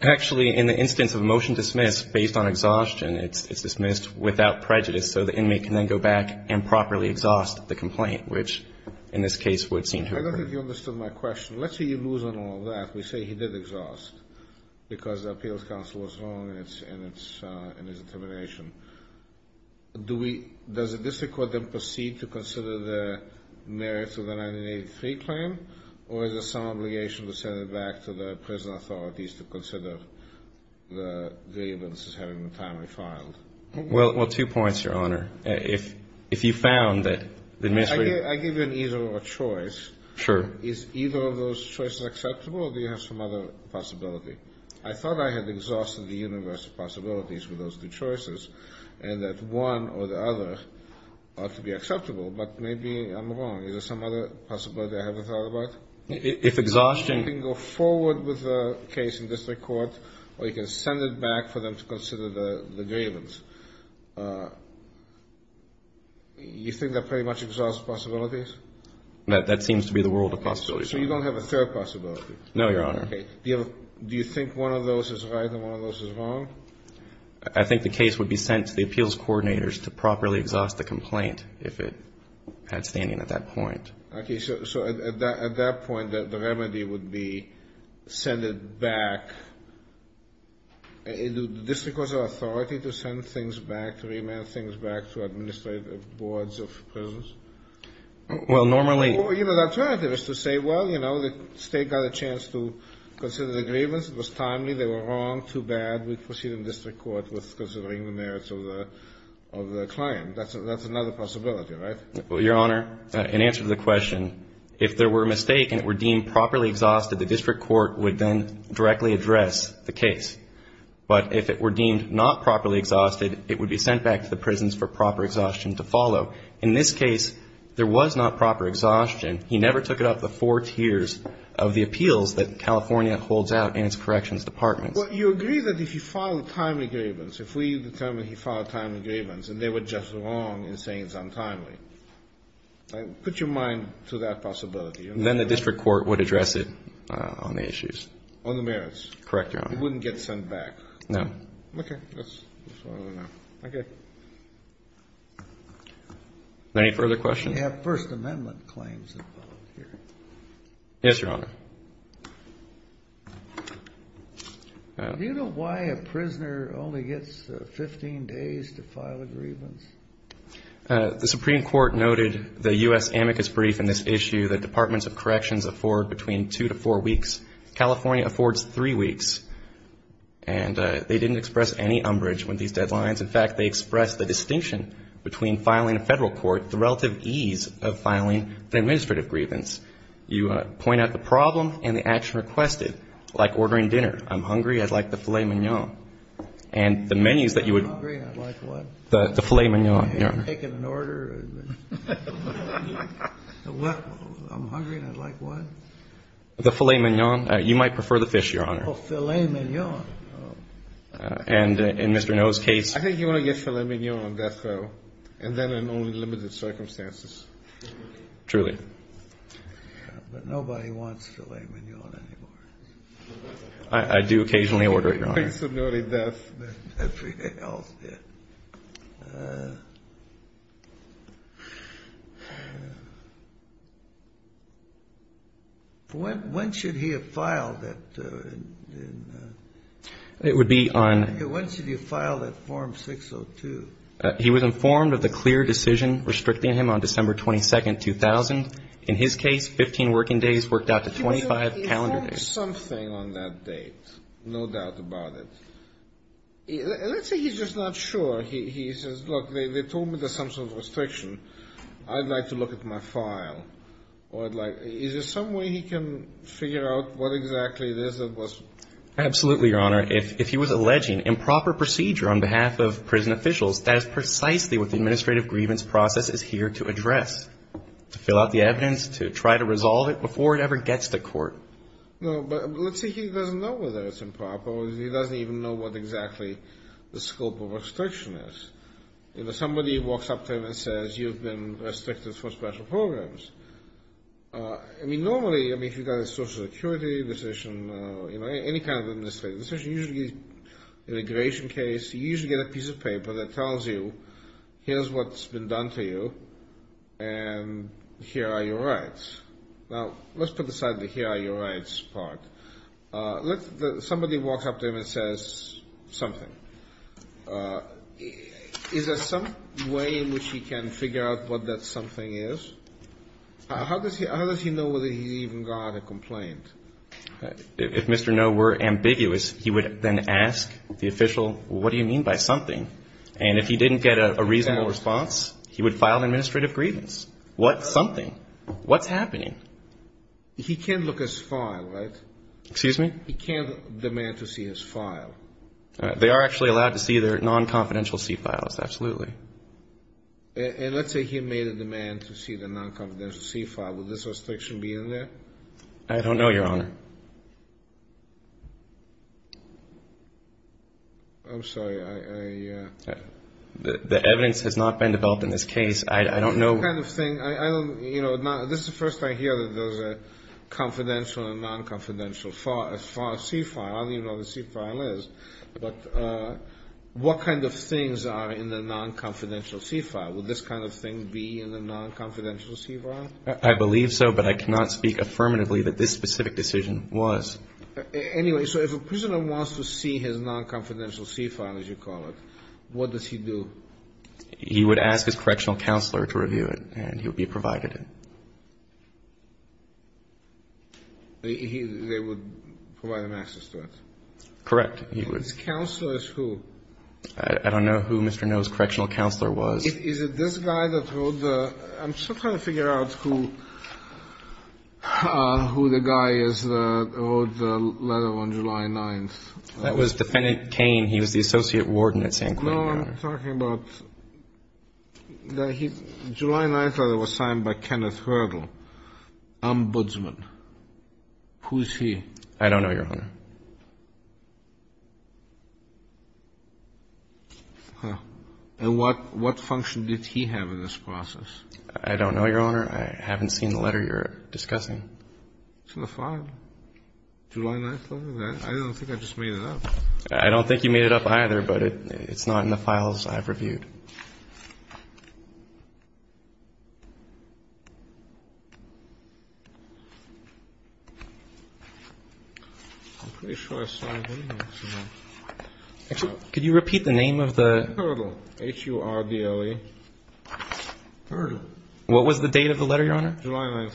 Actually, in the instance of a motion dismissed based on exhaustion, it's dismissed without prejudice, so the inmate can then go back and properly exhaust the complaint, which in this case would seem to- I don't think you understood my question. Let's say you lose on all that. We say he did exhaust because the appeals counsel was wrong in his determination. Does the district court then proceed to consider the merits of the 1983 claim, or is it some obligation to send it back to the prison authorities to consider the grievance as having been timely filed? Well, two points, Your Honor. If you found that the- I give you either a choice. Sure. Is either of those choices acceptable, or do you have some other possibility? I thought I had exhausted the universe of possibilities for those two choices, and that one or the other ought to be acceptable, but maybe I'm wrong. Is there some other possibility I haven't thought about? If exhaustion- You can go forward with the case in district court, or you can send it back for them to consider the grievance. You think that pretty much exhausts possibilities? That seems to be the world of possibilities. So you don't have a third possibility? No, Your Honor. Okay. Do you think one of those is right and one of those is wrong? I think the case would be sent to the appeals coordinators to properly exhaust the complaint if it had stand-in at that point. Okay. So at that point, the remedy would be send it back. Is it the district court's authority to send things back, to remand things back to administrative boards of prisons? Well, normally- Or, you know, the alternative is to say, well, you know, the state got a chance to consider the grievance. It was timely. They were wrong. Too bad. We proceeded in district court with considering the merits of the client. That's another possibility, right? Well, Your Honor, in answer to the question, if there were a mistake and it were deemed properly exhausted, the district court would then directly address the case. But if it were deemed not properly exhausted, it would be sent back to the prisons for proper exhaustion to follow. In this case, there was not proper exhaustion. He never took it up to four tiers of the appeals that California holds out in its corrections department. Well, you agree that if you filed a timely grievance, if we determined he filed a timely grievance, that they were just wrong in saying it's untimely. Put your mind to that possibility. Then the district court would address it on the issues. On the merits. Correct, Your Honor. It wouldn't get sent back. No. Okay. Okay. Any further questions? We have First Amendment claims involved here. Yes, Your Honor. Do you know why a prisoner only gets 15 days to file a grievance? The Supreme Court noted the U.S. amicus brief in this issue that departments of corrections afford between two to four weeks. California affords three weeks. And they didn't express any umbrage with these deadlines. In fact, they expressed the distinction between filing a federal court, the relative ease of filing the administrative grievance. You point out the problem and the action requested, like ordering dinner. I'm hungry. I'd like the filet mignon. And the menu that you would. I'm hungry and I'd like what? The filet mignon, Your Honor. I'm taking an order. I'm hungry and I'd like what? The filet mignon. You might prefer the fish, Your Honor. Oh, filet mignon. And in Mr. Noe's case. I think you want to get filet mignon on that bill. And then in only limited circumstances. Truly. But nobody wants filet mignon anymore. I do occasionally order it, Your Honor. When should he have filed that? It would be on. When should he have filed that form 602? He was informed of the clear decision restricting him on December 22, 2000. In his case, 15 working days worked out to 25 calendar days. There's something on that date. No doubt about it. Let's say he's just not sure. He says, look, they told me there's some sort of restriction. I'd like to look at my file. Is there some way he can figure out what exactly this was? Absolutely, Your Honor. If he was alleging improper procedure on behalf of prison officials, that is precisely what the administrative grievance process is here to address. To fill out the evidence, to try to resolve it before it ever gets to court. But let's say he doesn't know whether it's improper or he doesn't even know what exactly the scope of restriction is. Somebody walks up to him and says, you've been restricted for special programs. Normally, if you've got a social security decision, any kind of administrative decision, usually an immigration case, you usually get a piece of paper that tells you, here's what's been done to you, and here are your rights. Now, let's put aside the here are your rights part. Somebody walks up to him and says something. Is there some way in which he can figure out what that something is? How does he know whether he even got a complaint? If Mr. No were ambiguous, he would then ask the official, what do you mean by something? And if he didn't get a reasonable response, he would file an administrative grievance. What something? What's happening? He can't look at his file, right? Excuse me? He can't demand to see his file. They are actually allowed to see their non-confidential C files, absolutely. And let's say he made a demand to see the non-confidential C file. Would this restriction be in there? I don't know, Your Honor. I'm sorry. The evidence has not been developed in this case. I don't know. This is the first time I hear that there's a confidential and non-confidential C file. I don't even know what a C file is. But what kind of things are in the non-confidential C file? Would this kind of thing be in the non-confidential C file? Anyway, so if a prisoner wants to see his non-confidential C file, as you call it, what does he do? He would ask his correctional counselor to review it, and he would be provided. They would provide him access to it? Correct. His counselor is who? I don't know who Mr. No's correctional counselor was. Is it this guy that wrote the – I'm still trying to figure out who the guy is that wrote the letter on July 9th. That was Lieutenant Kane. He was the associate warden at San Quentin. No, I'm talking about – July 9th, it was signed by Kenneth Hurdle. Ombudsman. Who is he? I don't know, Your Honor. And what function did he have in this process? I don't know, Your Honor. I haven't seen the letter you're discussing. It's in the file. July 9th? I don't think I just made it up. I don't think you made it up either, but it's not in the files I've reviewed. I'm pretty sure I saw it somewhere. Could you repeat the name of the – Hurdle. H-U-R-D-L-E. Hurdle. What was the date of the letter, Your Honor? July 9th.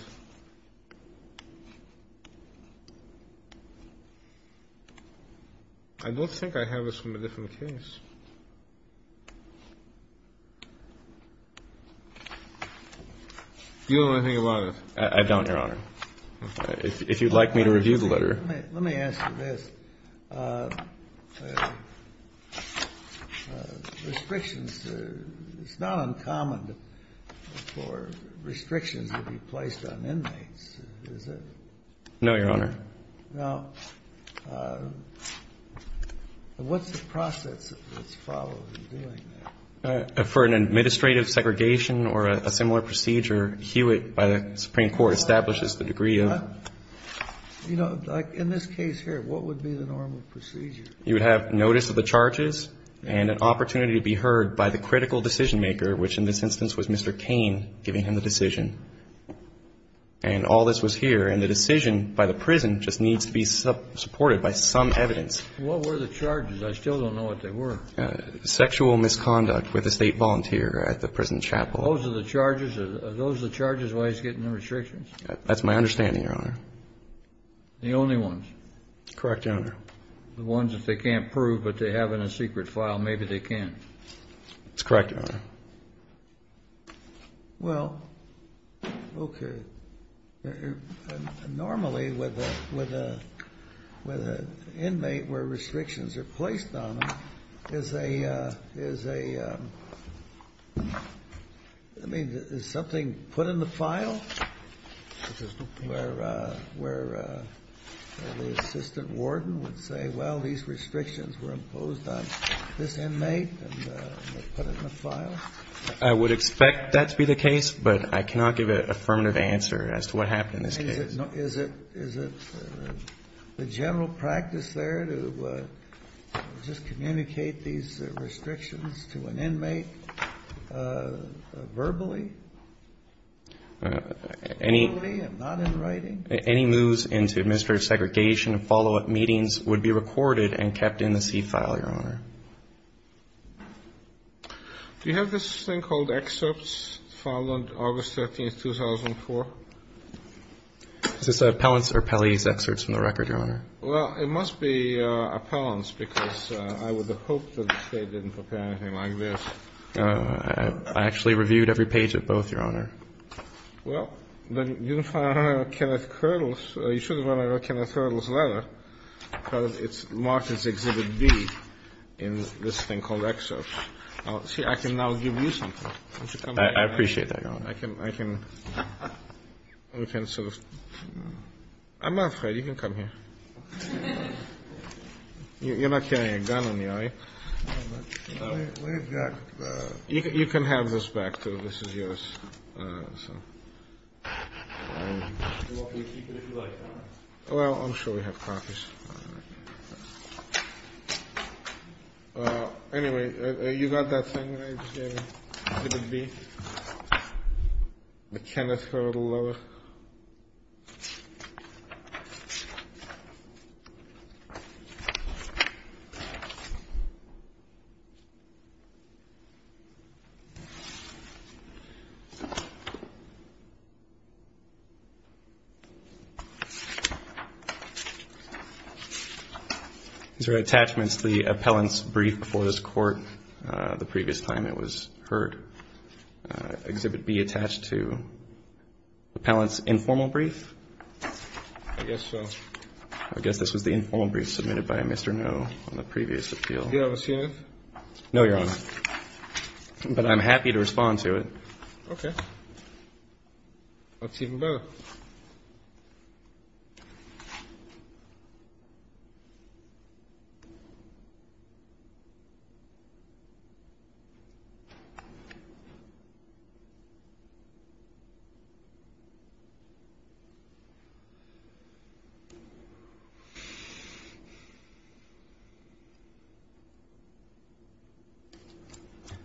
I don't think I have it somewhere different than this. You or he, Your Honor? I don't, Your Honor. If you'd like me to review the letter. Let me answer this. Restrictions – it's not uncommon for restrictions to be placed on inmates, is it? No, Your Honor. Now, what's the process that's followed in doing that? For an administrative segregation or a similar procedure, Hewitt by the Supreme Court establishes the degree of – You know, in this case here, what would be the normal procedure? You would have notice of the charges and an opportunity to be heard by the critical decision maker, which in this instance was Mr. Kane, giving him the decision. And all this was here, and the decision by the prison just needs to be supported by some evidence. What were the charges? I still don't know what they were. Sexual misconduct with a state volunteer at the prison chapel. Are those the charges why he's getting the restrictions? That's my understanding, Your Honor. The only ones? That's correct, Your Honor. The ones that they can't prove but they have in a secret file, maybe they can. That's correct, Your Honor. Well, okay. Normally, with an inmate where restrictions are placed on them, there's a – I mean, is something put in the file? Where the assistant warden would say, well, these restrictions were imposed on this inmate and put it in a file? I would expect that to be the case, but I cannot give an affirmative answer as to what happened in this case. Is it the general practice there to just communicate these restrictions to an inmate verbally? Verbally and not in writing? Any moves into administrative segregation and follow-up meetings would be recorded and kept in the C-file, Your Honor. Do you have this thing called excerpts filed on August 13, 2004? Is this appellant's or palliative's excerpts from the record, Your Honor? Well, it must be appellant's because I would have hoped that the state didn't prepare anything like this. I actually reviewed every page of both, Your Honor. Well, then you should have run a Kenneth Hurdles letter. It's marked as Exhibit B in this thing called excerpts. See, I can now give you some. I appreciate that, Your Honor. I'm not afraid. You can come here. You're not carrying a gun on you, are you? You can have this back, too. Well, I'm sure we have copies. Anyway, you got that thing? The Kenneth Hurdle letter. Thank you. These are attachments to the appellant's brief before this court the previous time it was heard. Exhibit B attached to the appellant's informal brief? I guess so. I guess this is the informal brief submitted by Mr. Noh on the previous appeal. Do you have it, Your Honor? No, Your Honor. But I'm happy to respond to it. Okay. Exhibit B.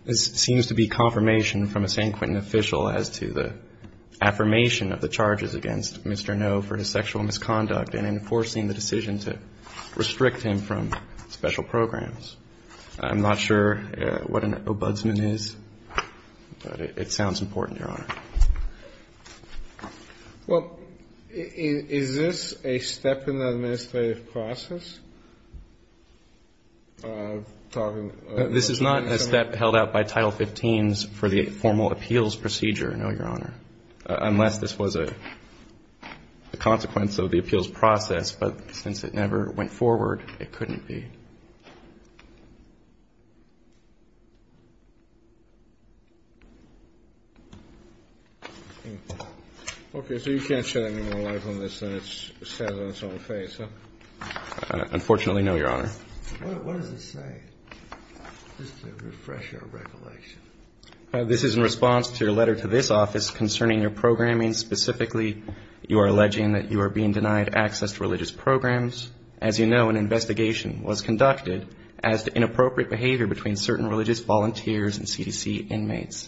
This seems to be confirmation from a San Quentin official as to the affirmation of the charges against Mr. Noh for his sexual misconduct and enforcing the decisions that restrict him from special programs. I'm not sure what an ombudsman is, but it sounds important, Your Honor. Well, is this a step in the administrative process? This is not a step held out by Title 15 for the formal appeals procedure, no, Your Honor, unless this was a consequence of the appeals process, but since it never went forward, it couldn't be. Okay, so you can't shed any more light on this than it says on its own face, huh? Unfortunately, no, Your Honor. What does it say? Just to refresh your recollection. This is in response to your letter to this office concerning your programming. Specifically, you are alleging that you are being denied access to religious programs. As you know, an investigation was conducted as to inappropriate behavior between certain religious volunteers and CDC inmates.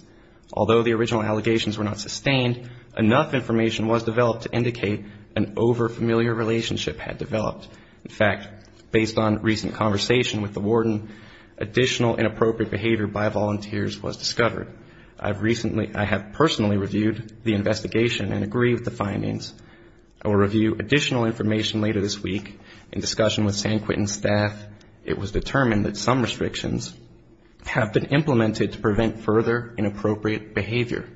Although the original allegations were not sustained, enough information was developed to indicate an over-familiar relationship had developed. In fact, based on recent conversation with the warden, additional inappropriate behavior by volunteers was discovered. I have personally reviewed the investigation and agree with the findings. I will review additional information later this week in discussion with Sam Quentin's staff. In fact, it was determined that some restrictions have been implemented to prevent further inappropriate behavior.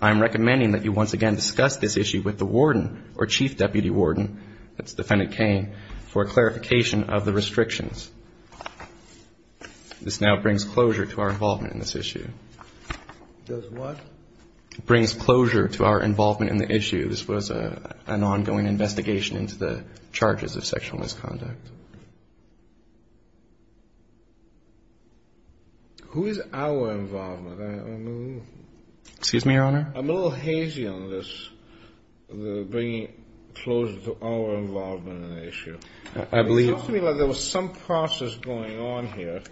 I am recommending that you once again discuss this issue with the warden or Chief Deputy Warden, that's Defendant Kane, for clarification of the restrictions. This now brings closure to our involvement in this issue. Does what? It brings closure to our involvement in the issue. This was an ongoing investigation into the charges of sexual misconduct. Who is our involvement? Excuse me, Your Honor? I'm a little hazy on this, bringing closure to our involvement in the issue. It seems like there was some process going on here,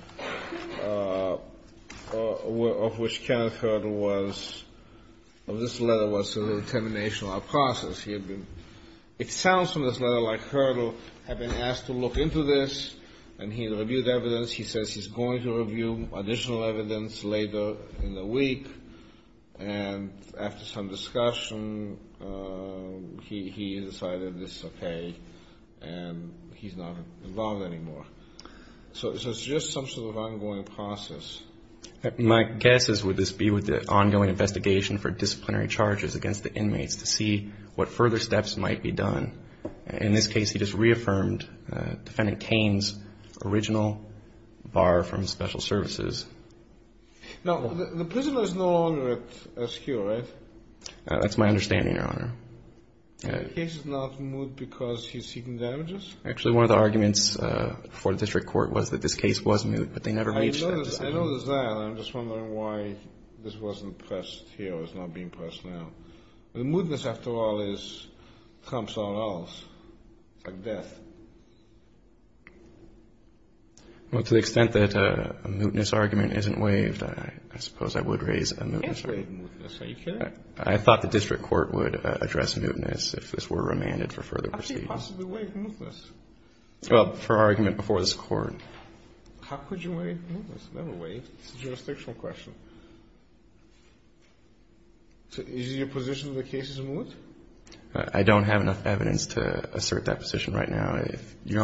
of which Kenneth Hurdle was... This letter was a determination of process. It sounds to me as though Hurdle had been asked to look into this, and he had reviewed evidence. He says he's going to review additional evidence later in the week, and after some discussion, he decided this is okay, and he's not involved anymore. So it's just some sort of ongoing process. My guess is would this be with the ongoing investigation for disciplinary charges against the inmates to see what further steps might be done. In this case, he just reaffirmed Defendant Kane's original bar from special services. Now, the prisoner is no longer askew, right? That's my understanding, Your Honor. The case is not moot because he's seeking damages? Actually, one of the arguments for this report was that this case was moot, but they never reached a decision. I noticed that, and I'm just wondering why this wasn't pressed here. It's not being pressed now. The mootness, after all, comes from somewhere else, like death. Well, to the extent that a mootness argument isn't waived, I suppose I would raise a mootness argument. You can't waive mootness. Are you kidding? I thought the district court would address mootness if this were remanded for further proceedings. How could you possibly waive mootness? Well, for argument before this Court. How could you waive mootness? It's a jurisdiction question. Is your position that the case is moot? I don't have enough evidence to assert that position right now. But he's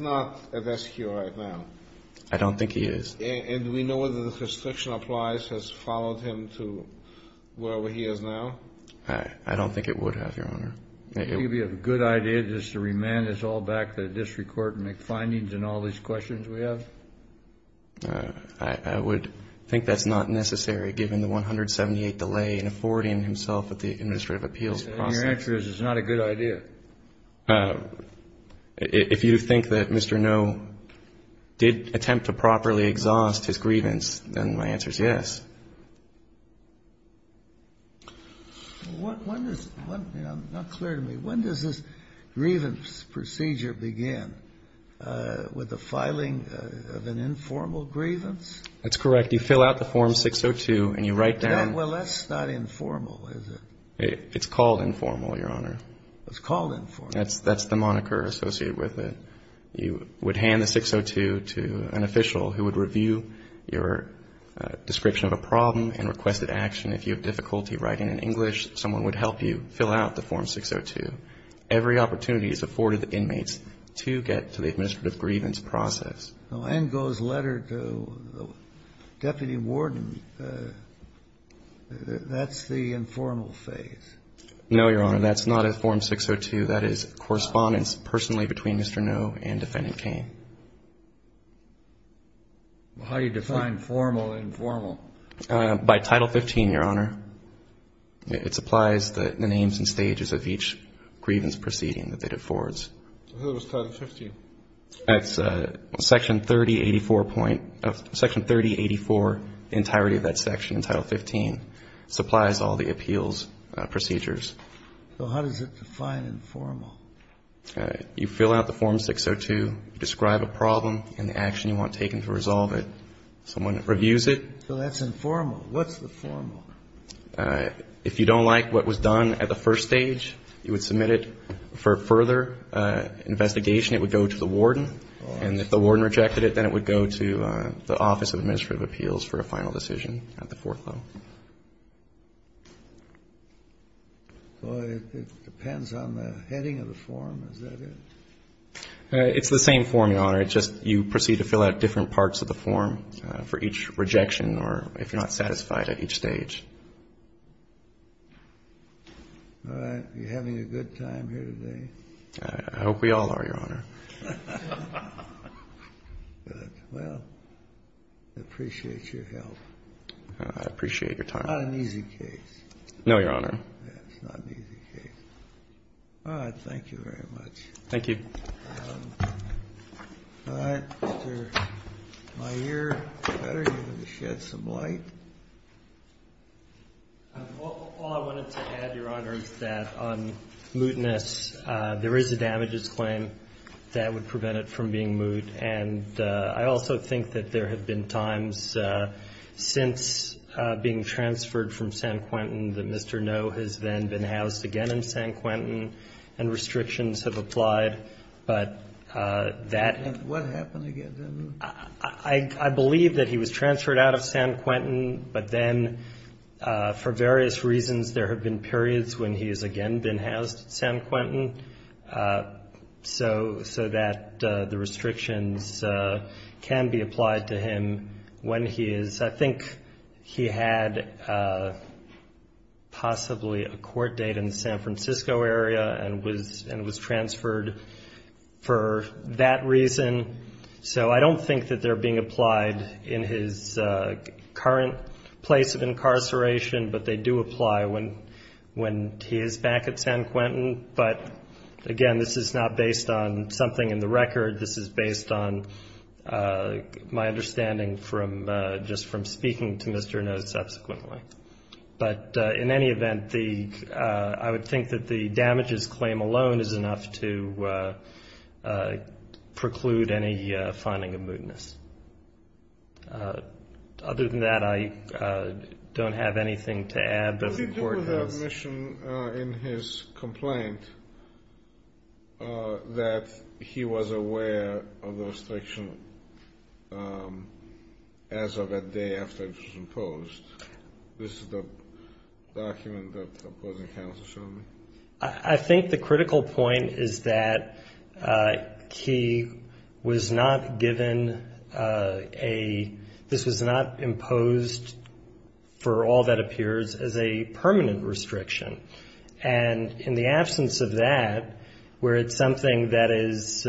not at SQI right now. I don't think he is. And do we know whether the constriction applies has followed him to wherever he is now? I don't think it would have, Your Honor. Do you think it would be a good idea just to remand this all back to the district court and make findings in all these questions we have? I would think that's not necessary, given the 178 delay in affording himself with the administrative appeals process. My answer is it's not a good idea. If you think that Mr. Noe did attempt to properly exhaust his grievance, then my answer is yes. When does this grievance procedure begin? With the filing of an informal grievance? That's correct. You fill out the Form 602 and you write down. Well, that's not informal, is it? It's called informal, Your Honor. It's called informal. That's the moniker associated with it. You would hand the 602 to an official who would review your description of a problem and requested action. If you have difficulty writing in English, someone would help you fill out the Form 602. Every opportunity is afforded the inmates to get to the administrative grievance process. The line goes letter to the deputy warden. That's the informal phase. No, Your Honor. That's not a Form 602. That is correspondence personally between Mr. Noe and Defendant Kane. How do you define formal and informal? By Title 15, Your Honor. It supplies the names and stages of each grievance proceeding that it affords. Who is Title 15? That's Section 3084 entirety of that section, Title 15. It supplies all the appeals procedures. So how do you define informal? You fill out the Form 602, describe a problem and the action you want taken to resolve it. Someone reviews it. So that's informal. What's informal? If you don't like what was done at the first stage, you would submit it for further investigation. It would go to the warden. And if the warden rejected it, then it would go to the Office of Administrative Appeals for a final decision at the court level. It depends on the heading of the form, is that it? It's the same form, Your Honor. It's just you proceed to fill out different parts of the form for each rejection or if you're not satisfied at each stage. All right. You're having a good time here today. I hope we all are, Your Honor. Well, I appreciate your help. I appreciate your time. It's not an easy case. No, Your Honor. It's not an easy case. All right. Thank you very much. Thank you. All right. Mr. Meier. You had some light. All I wanted to add, Your Honor, is that on mootness, there is a damages claim that would prevent it from being moot. And I also think that there have been times since being transferred from San Quentin that Mr. No has then been housed again in San Quentin, and restrictions have applied. And what happened again then? I believe that he was transferred out of San Quentin, but then for various reasons, there have been periods when he has again been housed in San Quentin so that the restrictions can be applied to him when he is. I think he had possibly a court date in the San Francisco area and was transferred for that reason. So I don't think that they're being applied in his current place of incarceration, but they do apply when he is back at San Quentin. But, again, this is not based on something in the record. This is based on my understanding just from speaking to Mr. No subsequently. But in any event, I would think that the damages claim alone is enough to preclude any finding of mootness. Other than that, I don't have anything to add. Did you hear the admission in his complaint that he was aware of the restriction as of the day after he was imposed? This is the document that the opposing counsel showed me. I think the critical point is that he was not given a, this was not imposed for all that appears as a permanent restriction. And in the absence of that, where it's something that is,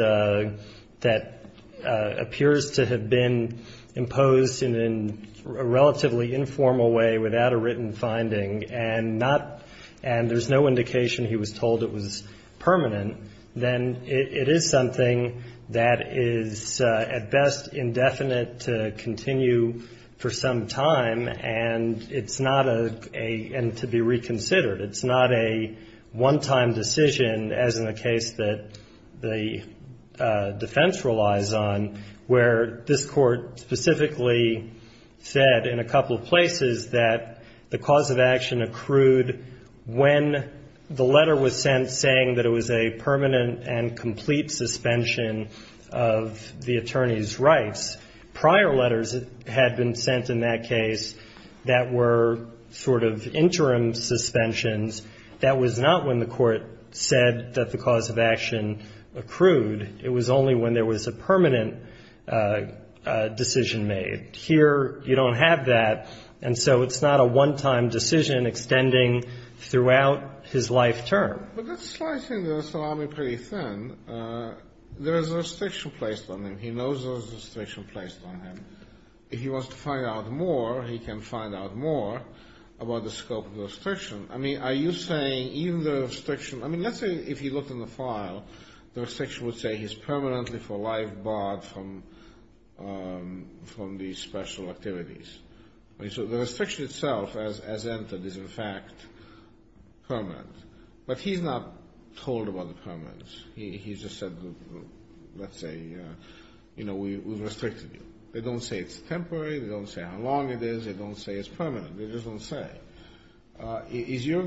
that appears to have been imposed in a relatively informal way without a written finding and not, and there's no indication he was told it was permanent, then it is something that is at best indefinite to continue for some time and it's not a, and to be reconsidered. It's not a one-time decision, as in the case that the defense relies on, where this court specifically said in a couple of places that the cause of action accrued when the letter was sent saying that it was a permanent and complete suspension of the attorney's rights. Prior letters had been sent in that case that were sort of interim suspensions. That was not when the court said that the cause of action accrued. It was only when there was a permanent decision made. Here, you don't have that, and so it's not a one-time decision extending throughout his life term. But that's slightly, so I'm pretty thin. There's a restriction placed on him. He knows there's a restriction placed on him. If he wants to find out more, he can find out more about the scope of the restriction. I mean, are you saying even the restriction, I mean, let's say if you look in the file, the restriction would say he's permanently for life barred from these special activities. So the restriction itself, as entered, is in fact permanent. But he's not told about the permanence. He's just said, let's say, you know, we've restricted you. They don't say it's temporary. They don't say how long it is. They don't say it's permanent. They just don't say. Is your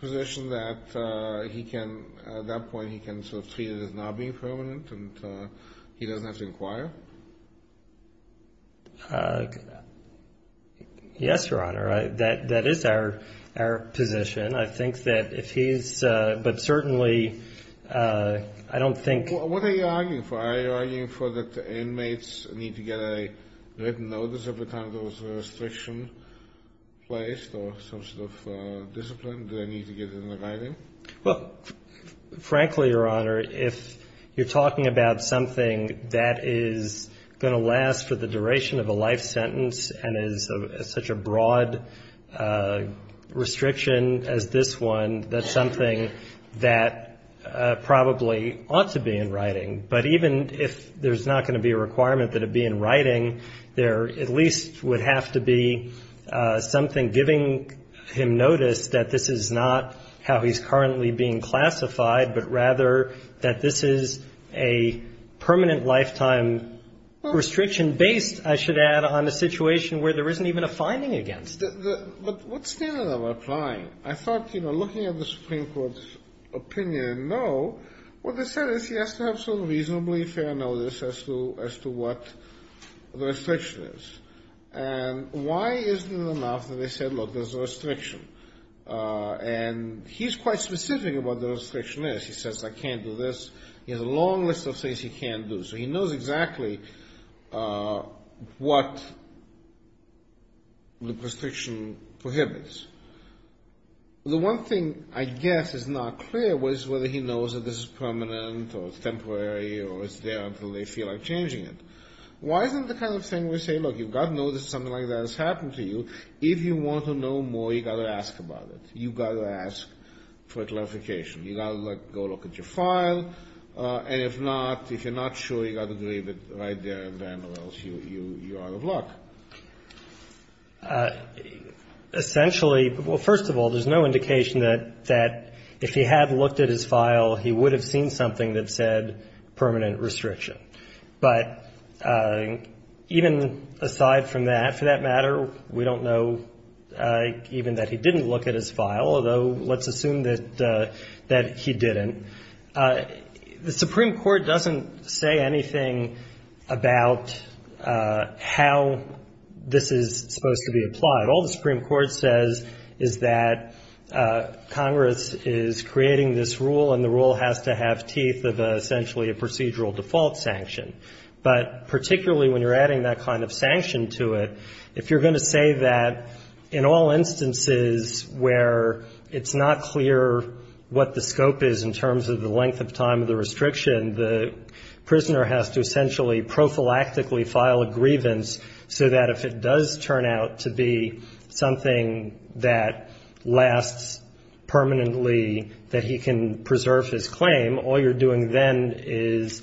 position that he can, at that point, he can sort of see that he's not being permanent, and he doesn't have to inquire? Yes, Your Honor, that is our position. I think that if he's, but certainly I don't think. What are you arguing for? Are you arguing for that the inmates need to get a written notice of the time there was a restriction placed or some sort of discipline they need to get in writing? Well, frankly, Your Honor, if you're talking about something that is going to last for the duration of a life sentence and is such a broad restriction as this one, that's something that probably ought to be in writing. But even if there's not going to be a requirement that it be in writing, there at least would have to be something giving him notice that this is not how he's currently being classified, but rather that this is a permanent lifetime restriction based, I should add, on a situation where there isn't even a finding against it. But what's the end of applying? I thought, you know, looking at the Supreme Court's opinion, no. What they said is he has to have some reasonably fair notice as to what the restriction is. And why isn't it enough that they said, look, there's a restriction? And he's quite specific about what the restriction is. He says, I can't do this. He has a long list of things he can't do. So he knows exactly what the restriction prohibits. The one thing I guess is not clear is whether he knows that this is permanent or temporary or is there until they feel like changing it. Why isn't the kind of thing where they say, look, you've got to know that something like that has happened to you. If you want to know more, you've got to ask about it. You've got to ask for clarification. You've got to go look at your file. And if not, if you're not sure, you've got to leave it right there and then or else you're out of luck. Essentially, well, first of all, there's no indication that if he had looked at his file, he would have seen something that said permanent restriction. But even aside from that, for that matter, we don't know even that he didn't look at his file, although let's assume that he didn't. The Supreme Court doesn't say anything about how this is supposed to be applied. All the Supreme Court says is that Congress is creating this rule and the rule has to have teeth of essentially a procedural default sanction. But particularly when you're adding that kind of sanction to it, if you're going to say that in all instances where it's not clear what the scope is in terms of the length of time of the restriction, the prisoner has to essentially prophylactically file a grievance so that if it does turn out to be something that lasts permanently, that he can preserve his claim, all you're doing then is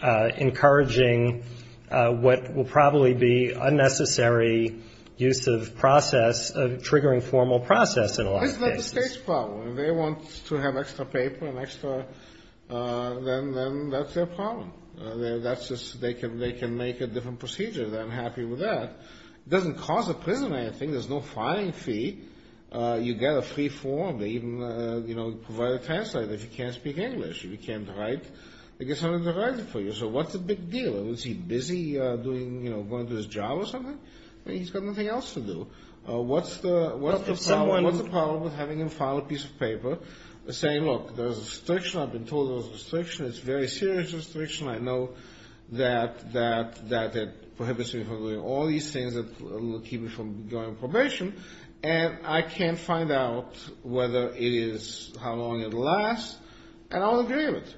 encouraging what will probably be unnecessary use of process, triggering formal process in a lot of cases. It's not the state's problem. If they want to have extra paper, then that's their problem. They can make a different procedure. I'm happy with that. It doesn't cause a prison anything. There's no filing fee. You get a free form. They even provide a translator if you can't speak English. If you can't write, they get someone to write it for you. So what's the big deal? Is he busy going to his job or something? He's got nothing else to do. What's the problem with having them file a piece of paper saying, look, there's a restriction. I've been told there's a restriction. It's a very serious restriction. I know that it prohibits me from doing all these things that will keep me from going on probation, and I can't find out whether it is, how long it will last, and I'll agree with it.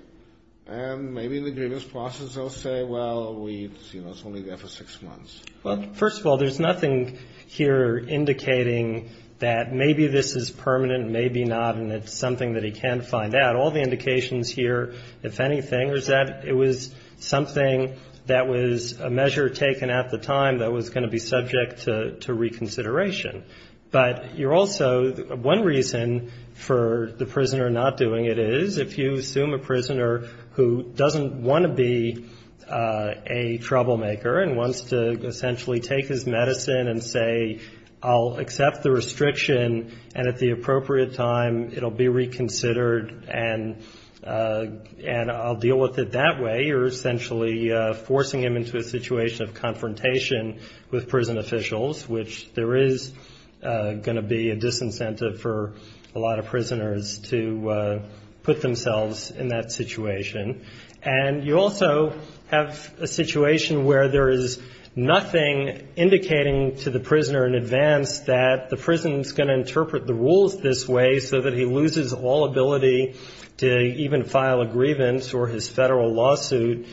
And maybe the grievance process will say, well, we see what's going to go for six months. Well, first of all, there's nothing here indicating that maybe this is permanent, maybe not, and it's something that he can find out. All the indications here, if anything, is that it was something that was a measure taken at the time that was going to be subject to reconsideration. But you're also one reason for the prisoner not doing it is if you assume a prisoner who doesn't want to be a troublemaker and wants to essentially take his medicine and say, I'll accept the restriction, and at the appropriate time it will be reconsidered, and I'll deal with it that way. You're essentially forcing him into a situation of confrontation with prison officials, which there is going to be a disincentive for a lot of prisoners to put themselves in that situation. And you also have a situation where there is nothing indicating to the prisoner in advance that the rules this way so that he loses all ability to even file a grievance or his federal lawsuit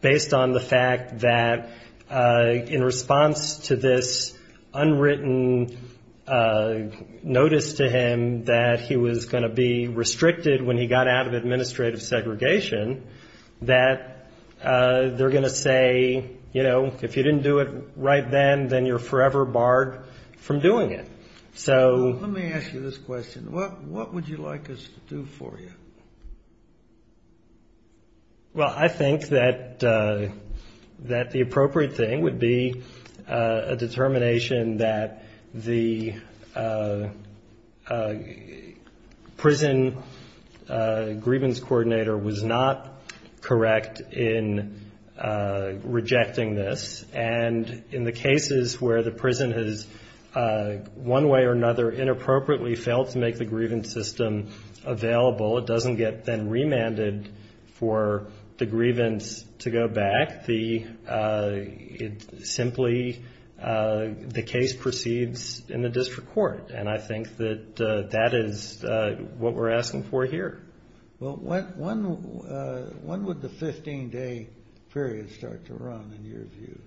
based on the fact that in response to this unwritten notice to him that he was going to be restricted when he got out of administrative segregation that they're going to say, you know, if you didn't do it right then, then you're forever barred from doing it. Let me ask you this question. What would you like us to do for you? Well, I think that the appropriate thing would be a determination that the prison grievance coordinator was not correct in rejecting this. And in the cases where the prison has one way or another inappropriately failed to make the grievance system available, it doesn't get then remanded for the grievance to go back. It simply, the case proceeds in the district court. And I think that that is what we're asking for here. Well, when would the 15-day period start to run in your view?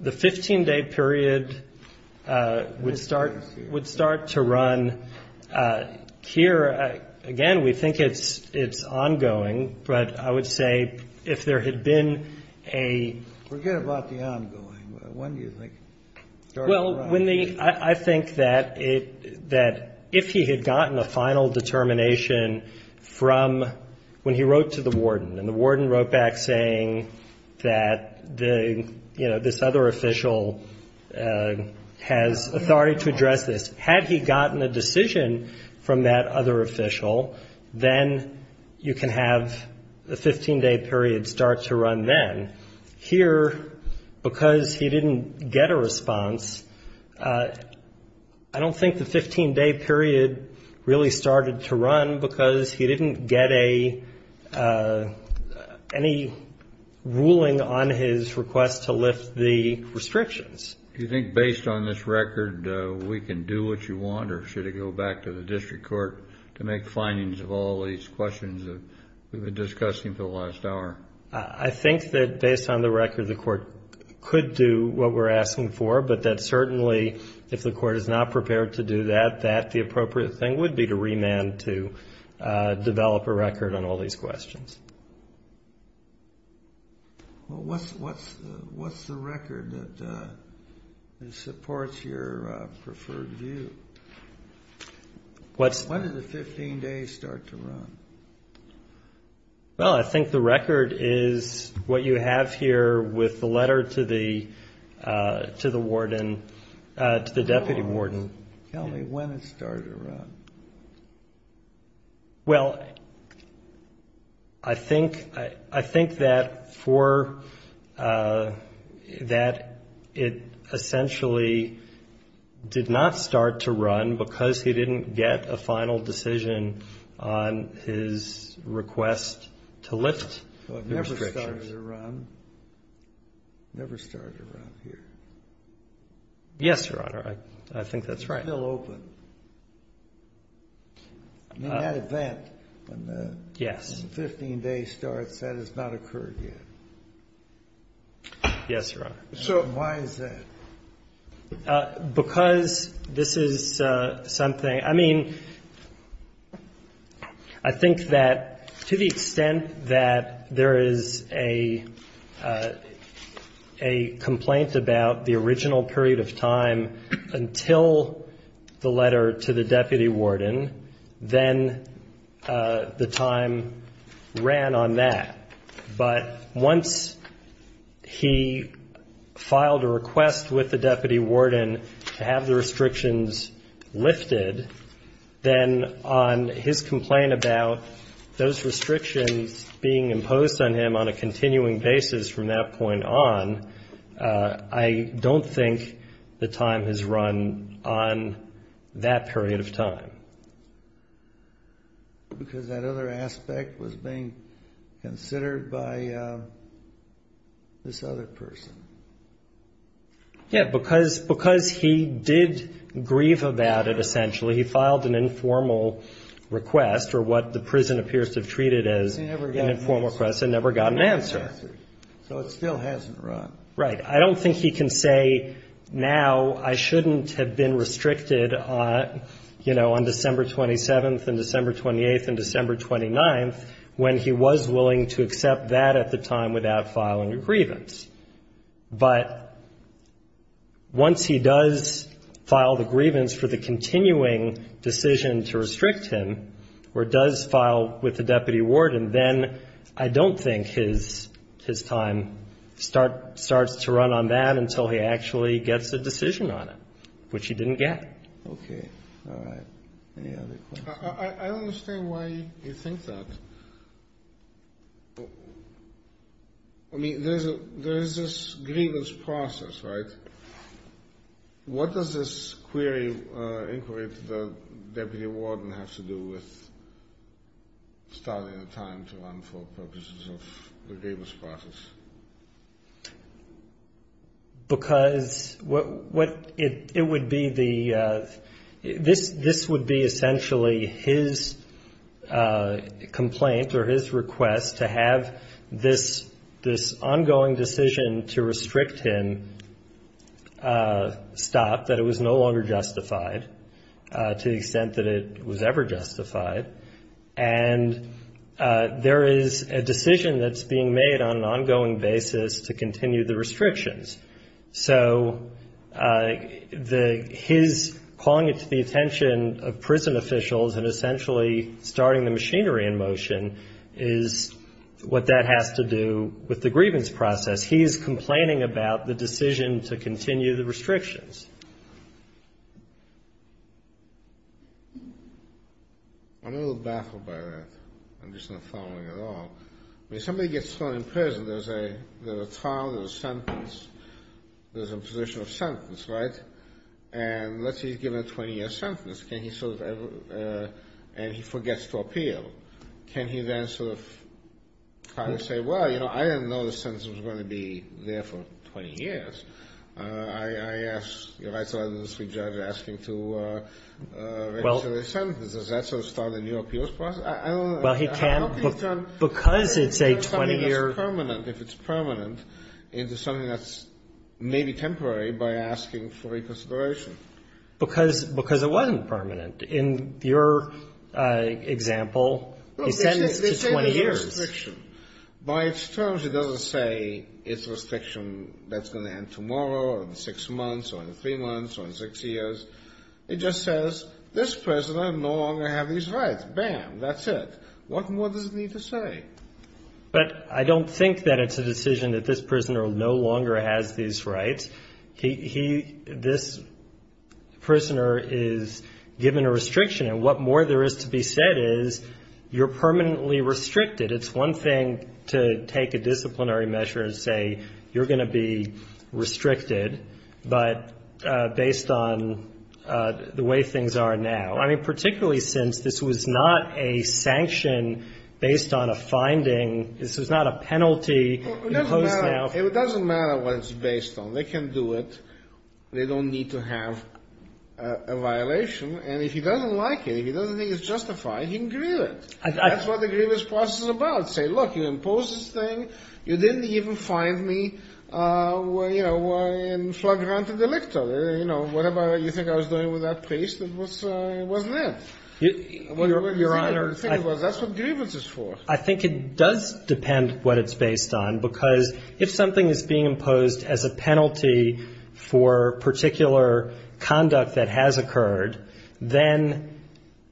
The 15-day period would start to run here. Again, we think it's ongoing. But I would say if there had been a... Forget about the ongoing. When do you think? Well, I think that if he had gotten a final determination from when he wrote to the warden, and the warden wrote back saying that, you know, this other official has authority to address this. Had he gotten a decision from that other official, then you can have the 15-day period start to run then. Here, because he didn't get a response, I don't think the 15-day period really started to run because he didn't get any ruling on his request to lift the restrictions. Do you think based on this record we can do what you want? Or should it go back to the district court to make findings of all these questions that we've been discussing for the last hour? I think that based on the record the court could do what we're asking for, but that certainly if the court is not prepared to do that, that the appropriate thing would be to remand to develop a record on all these questions. Well, what's the record that supports your preferred view? When did the 15 days start to run? Well, I think the record is what you have here with the letter to the warden, to the deputy warden. Tell me when it started to run. Well, I think that it essentially did not start to run because he didn't get a final decision on his request to lift the restrictions. It never started to run. It never started to run here. Yes, Your Honor, I think that's right. It's still open. Not at that. Yes. The 15-day start, that has not occurred yet. Yes, Your Honor. So why is that? Because this is something, I mean, I think that to the extent that there is a complaint about the original period of time until the letter to the deputy warden, then the time ran on that. But once he filed a request with the deputy warden to have the restrictions lifted, then on his complaint about those restrictions being imposed on him on a continuing basis from that point on, I don't think the time has run on that period of time. Because that other aspect was being considered by this other person. Yes, because he did grieve about it essentially. He filed an informal request for what the prison appears to have treated as an informal request and never got an answer. So it still hasn't run. Right. I don't think he can say now I shouldn't have been restricted, you know, on December 27th and December 28th and December 29th, when he was willing to accept that at the time without filing a grievance. But once he does file the grievance for the continuing decision to restrict him, or does file with the deputy warden, then I don't think his time starts to run on that until he actually gets a decision on it, which he didn't get. Okay. All right. I don't understand why you think that. I mean, there is this grievance process, right? What does this query incorporate that the deputy warden has to do with starting the time to run for purposes of the Davis process? Because it would be the – this would be essentially his complaint or his request to have this ongoing decision to restrict him stop, that it was no longer justified to the extent that it was ever justified. And there is a decision that's being made on an ongoing basis to continue the restrictions. So the – his calling it to the attention of prison officials and essentially starting the machinery in motion is what that has to do with the grievance process. He is complaining about the decision to continue the restrictions. I'm a little baffled by that. I'm just not following at all. When somebody gets thrown in prison, there's a trial and a sentence. There's a position of sentence, right? And let's say he's given a 20-year sentence, and he forgets to appeal. Can he then sort of try to say, well, you know, I didn't know the sentence was going to be there for 20 years. I asked the right to residency judge asking to register the sentence. Does that sort of start a new appeals process? I don't know. Well, he can't because it takes 20 years. If it's permanent, it's something that's maybe temporary by asking for reconsideration. Because it wasn't permanent. In your example, it's 20 years. By its terms, it doesn't say it's restriction that's going to end tomorrow or in six months or in three months or in six years. It just says, this prisoner no longer has these rights. Bam, that's it. What more does it need to say? But I don't think that it's a decision that this prisoner no longer has these rights. This prisoner is given a restriction. And what more there is to be said is you're permanently restricted. It's one thing to take a disciplinary measure and say you're going to be restricted, but based on the way things are now. I mean, particularly since this was not a sanction based on a finding. This is not a penalty imposed now. It doesn't matter what it's based on. They can do it. They don't need to have a violation. And if he doesn't like it, if he doesn't think it's justified, he can grieve it. That's what the grievance clause is about. Say, look, you imposed this thing. You didn't even find me, you know, in flagrant of the victor. You know, what about it? You think I was dealing with that priest? It wasn't him. That's what grievance is for. I think it does depend what it's based on. Because if something is being imposed as a penalty for particular conduct that has occurred, then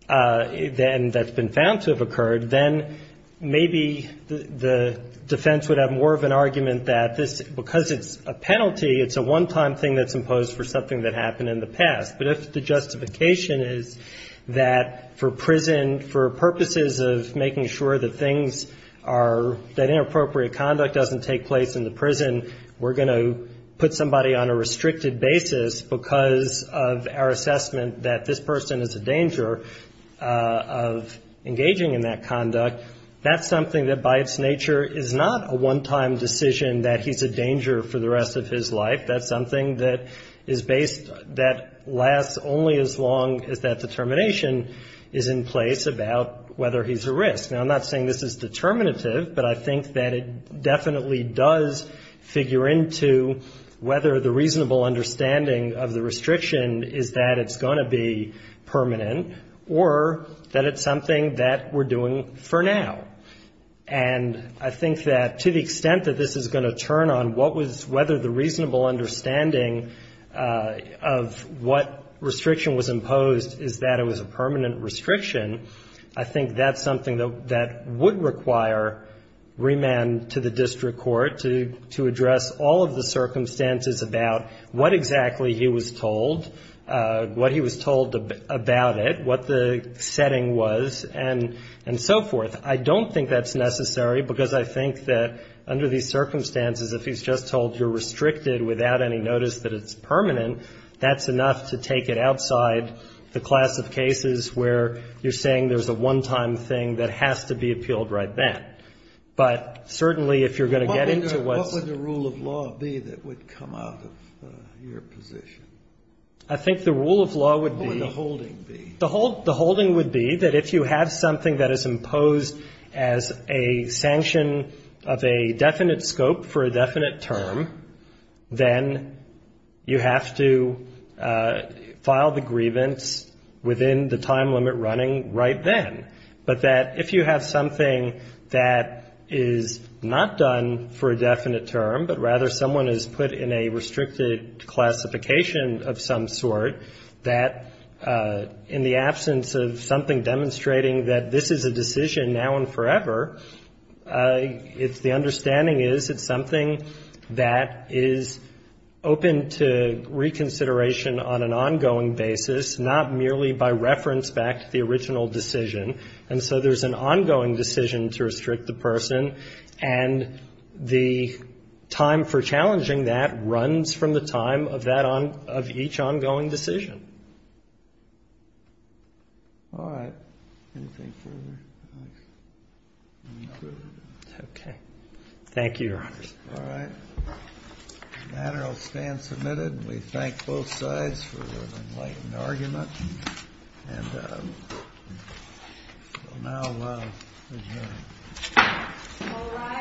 that's been found to have occurred, then maybe the defense would have more of an argument that because it's a penalty, it's a one-time thing that's imposed for something that happened in the past. But that's the justification is that for prison, for purposes of making sure that things are, that inappropriate conduct doesn't take place in the prison, we're going to put somebody on a restricted basis because of our assessment that this person is a danger of engaging in that conduct. That's something that by its nature is not a one-time decision that he's a danger for the rest of his life. That's something that is based, that lasts only as long as that determination is in place about whether he's a risk. Now, I'm not saying this is determinative, but I think that it definitely does figure into whether the reasonable understanding of the restriction is that it's going to be permanent or that it's something that we're doing for now. And I think that to the extent that this is going to turn on what was, whether the reasonable understanding of what restriction was imposed is that it was a permanent restriction, I think that's something that would require remand to the district court to address all of the circumstances about what exactly he was told, what he was told about it, what the setting was, and so forth. I don't think that's necessary because I think that under these circumstances, if he's just told you're restricted without any notice that it's permanent, that's enough to take it outside the class of cases where you're saying there's a one-time thing that has to be appealed right then. But certainly, if you're going to get into what- What would the rule of law be that would come out of your position? I think the rule of law would be- What would the holding be? The holding would be that if you have something that is imposed as a sanction of a definite scope for a definite term, then you have to file the grievance within the time limit running right then. But that if you have something that is not done for a definite term, but rather someone is put in a restricted classification of some sort, that in the absence of something demonstrating that this is a decision now and forever, the understanding is it's something that is open to reconsideration on an ongoing basis, not merely by reference back to the original decision. And so there's an ongoing decision to restrict the person. And the time for challenging that runs from the time of each ongoing decision. All right. Thank you, Your Honor. All right. The matter will stand submitted. We thank both sides for enlightening argument. And we'll now adjourn.